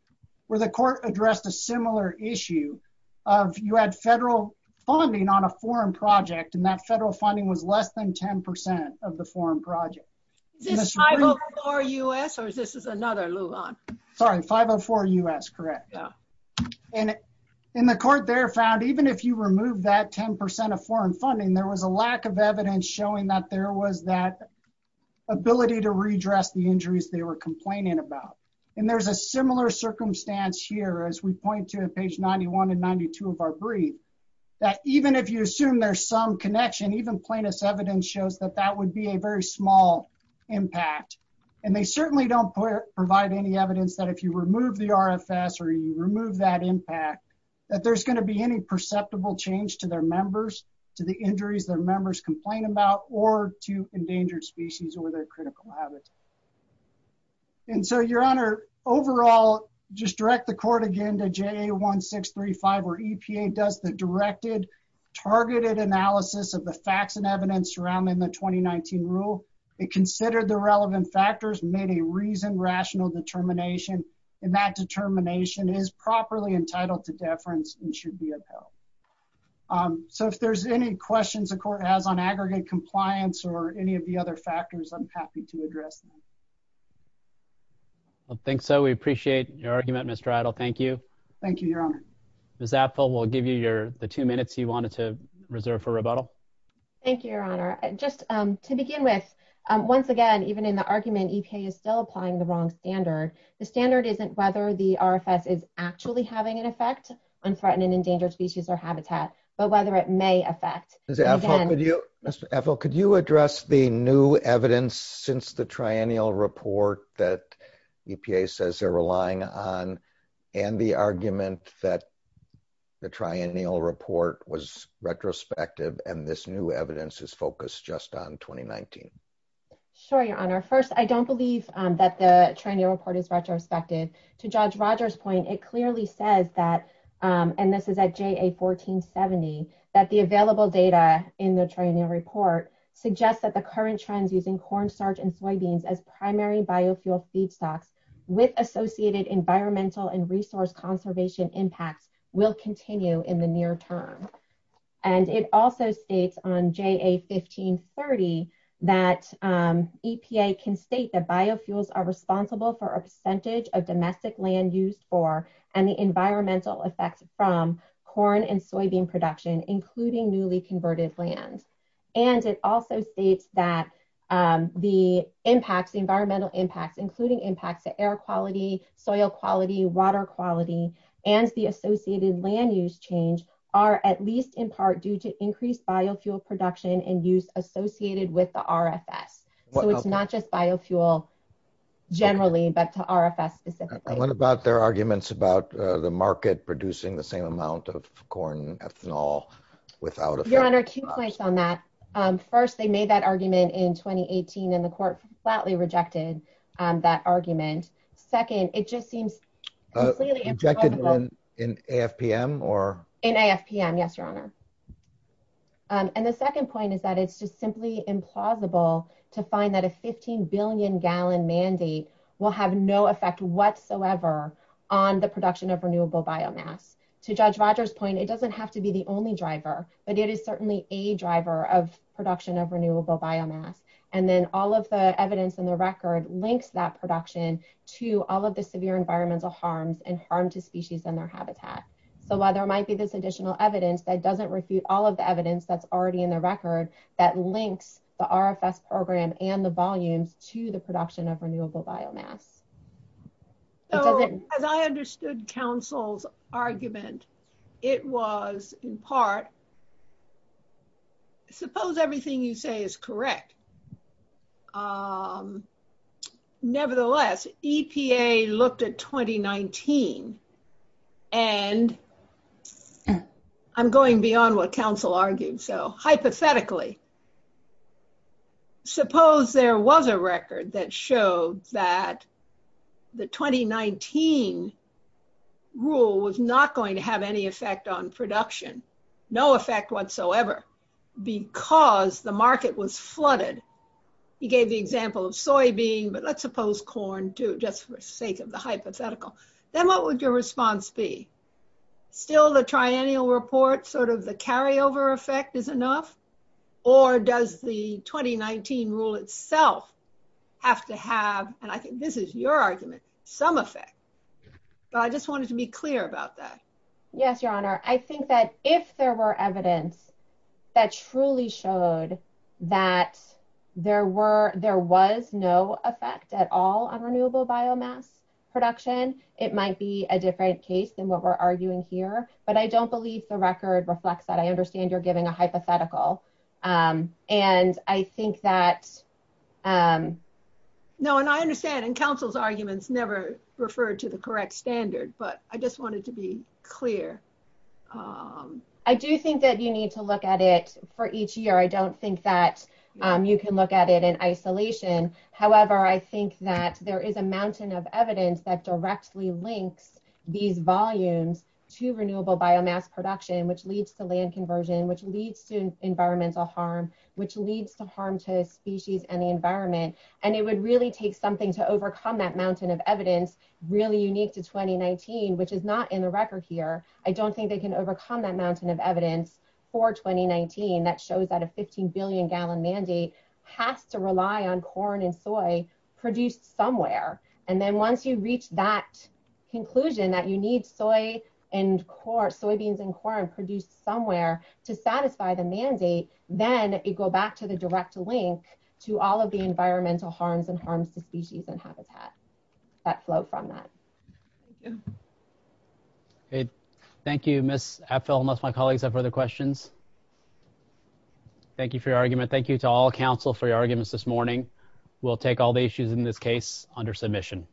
where the court addressed a similar issue of you had federal funding on a foreign project and that federal funding was less than 10 percent of the foreign project. Is this 504 U.S. or is this another Lujan? Sorry, 504 U.S., correct? Yeah. And the court there found even if you remove that 10 percent of foreign funding, there was a lack of evidence showing that there was that ability to redress the injuries they were complaining about. And there's a similar circumstance here as we point to page 91 and 92 of our brief, that even if you assume there's some connection, even plaintiff's evidence shows that that would be a very small impact. And they certainly don't provide any evidence that if you remove the RFS or you remove that impact, that there's going to be any perceptible change to their members, to the injuries their members complain about, or to endangered species or their critical habitat. And so, Your Honor, overall, just direct the court again to JA1635, where EPA does the directed, targeted analysis of the facts and evidence surrounding the 2019 rule. They considered the relevant factors, made a reasoned, rational determination, and that determination is properly entitled to deference and should be upheld. So if there's any questions the court has on aggregate compliance or any of the other factors, I'm happy to address them. Well, I think so. We appreciate your argument, Mr. Idle. Thank you. Thank you, Your Honor. Ms. Apfel, we'll give you the two minutes you wanted to reserve for rebuttal. Thank you, Your Honor. Just to begin with, once again, even in the argument, EPA is still applying the wrong standard. The standard isn't whether the RFS is actually having an effect on threatened and endangered species or habitat, but whether it may affect. Ms. Apfel, could you address the new evidence since the triennial report that EPA says they're new evidence is focused just on 2019? Sure, Your Honor. First, I don't believe that the triennial report is retrospective. To Judge Rogers' point, it clearly says that, and this is at JA1470, that the available data in the triennial report suggests that the current trends using cornstarch and soybeans as primary biofuel feedstocks with associated environmental and resource conservation impacts will continue in the near term. It also states on JA1530 that EPA can state that biofuels are responsible for a percentage of domestic land use for and the environmental effects from corn and soybean production, including newly converted land. It also states that the environmental impacts, including impacts to air quality, soil quality, water quality, and the associated land use change, are at least in part due to increased biofuel production and use associated with the RFS. So it's not just biofuel generally, but to RFS specifically. What about their arguments about the market producing the same amount of corn ethanol? Your Honor, two points on that. First, they made that argument in 2018 and the court flatly rejected that argument. Second, it just seems completely implausible. Rejected in AFPM or? In AFPM, yes, Your Honor. And the second point is that it's just simply implausible to find that a 15 billion gallon mandate will have no effect whatsoever on the production of renewable biomass. To Judge Rogers' point, it doesn't have to be the only driver, but it is certainly a driver of production of renewable biomass. And then all of the evidence in the record links that production to all of the severe environmental harms and harm to species and their habitat. So while there might be this additional evidence, that doesn't refute all of the evidence that's already in the record that links the RFS program and the volume to the production of renewable biomass. As I understood counsel's argument, it was in part, suppose everything you say is correct. Nevertheless, EPA looked at 2019 and I'm going beyond what counsel argued. So hypothetically, suppose there was a record that showed that the 2019 rule was not going to have any effect on production, no effect whatsoever, because the market was flooded. He gave the example of soybean, but let's suppose corn too, just for sake of the hypothetical. Then what would your response be? Still the triennial report, sort of the carryover effect is enough. Or does the 2019 rule itself have to have, and I think this is your argument, some effect. So I just wanted to be clear about that. Yes, your honor. I think that if there were evidence that truly showed that there was no effect at all on renewable biomass production, it might be a different case than what we're arguing here. But I don't believe the record reflects that. I understand you're giving a hypothetical. And I think that... No, and I understand and counsel's arguments never referred to the correct standard, but I just wanted to be clear. I do think that you need to look at it for each year. I don't think that you can look at it in isolation. However, I think that there is a mountain of evidence that directly links these volumes to renewable biomass production, which leads to land conversion, which leads to environmental harm, which leads to harm to species and the environment. And it would really take something to overcome that mountain of evidence, really unique to 2019, which is not in the record here. I don't think they can overcome that mountain of evidence for 2019 that shows that a 15 billion gallon mandate has to rely on corn and soy produced somewhere. And then once you reach that conclusion that you need soy and corn, soybeans and corn produced somewhere to satisfy the mandate, then you go back to the direct link to all of the environmental harms and harms to species and habitat that flow from that. Okay. Thank you, Ms. Apfel, unless my colleagues have other questions. Thank you for your argument. Thank you to all counsel for your arguments this morning. We'll take all the issues in this case under submission.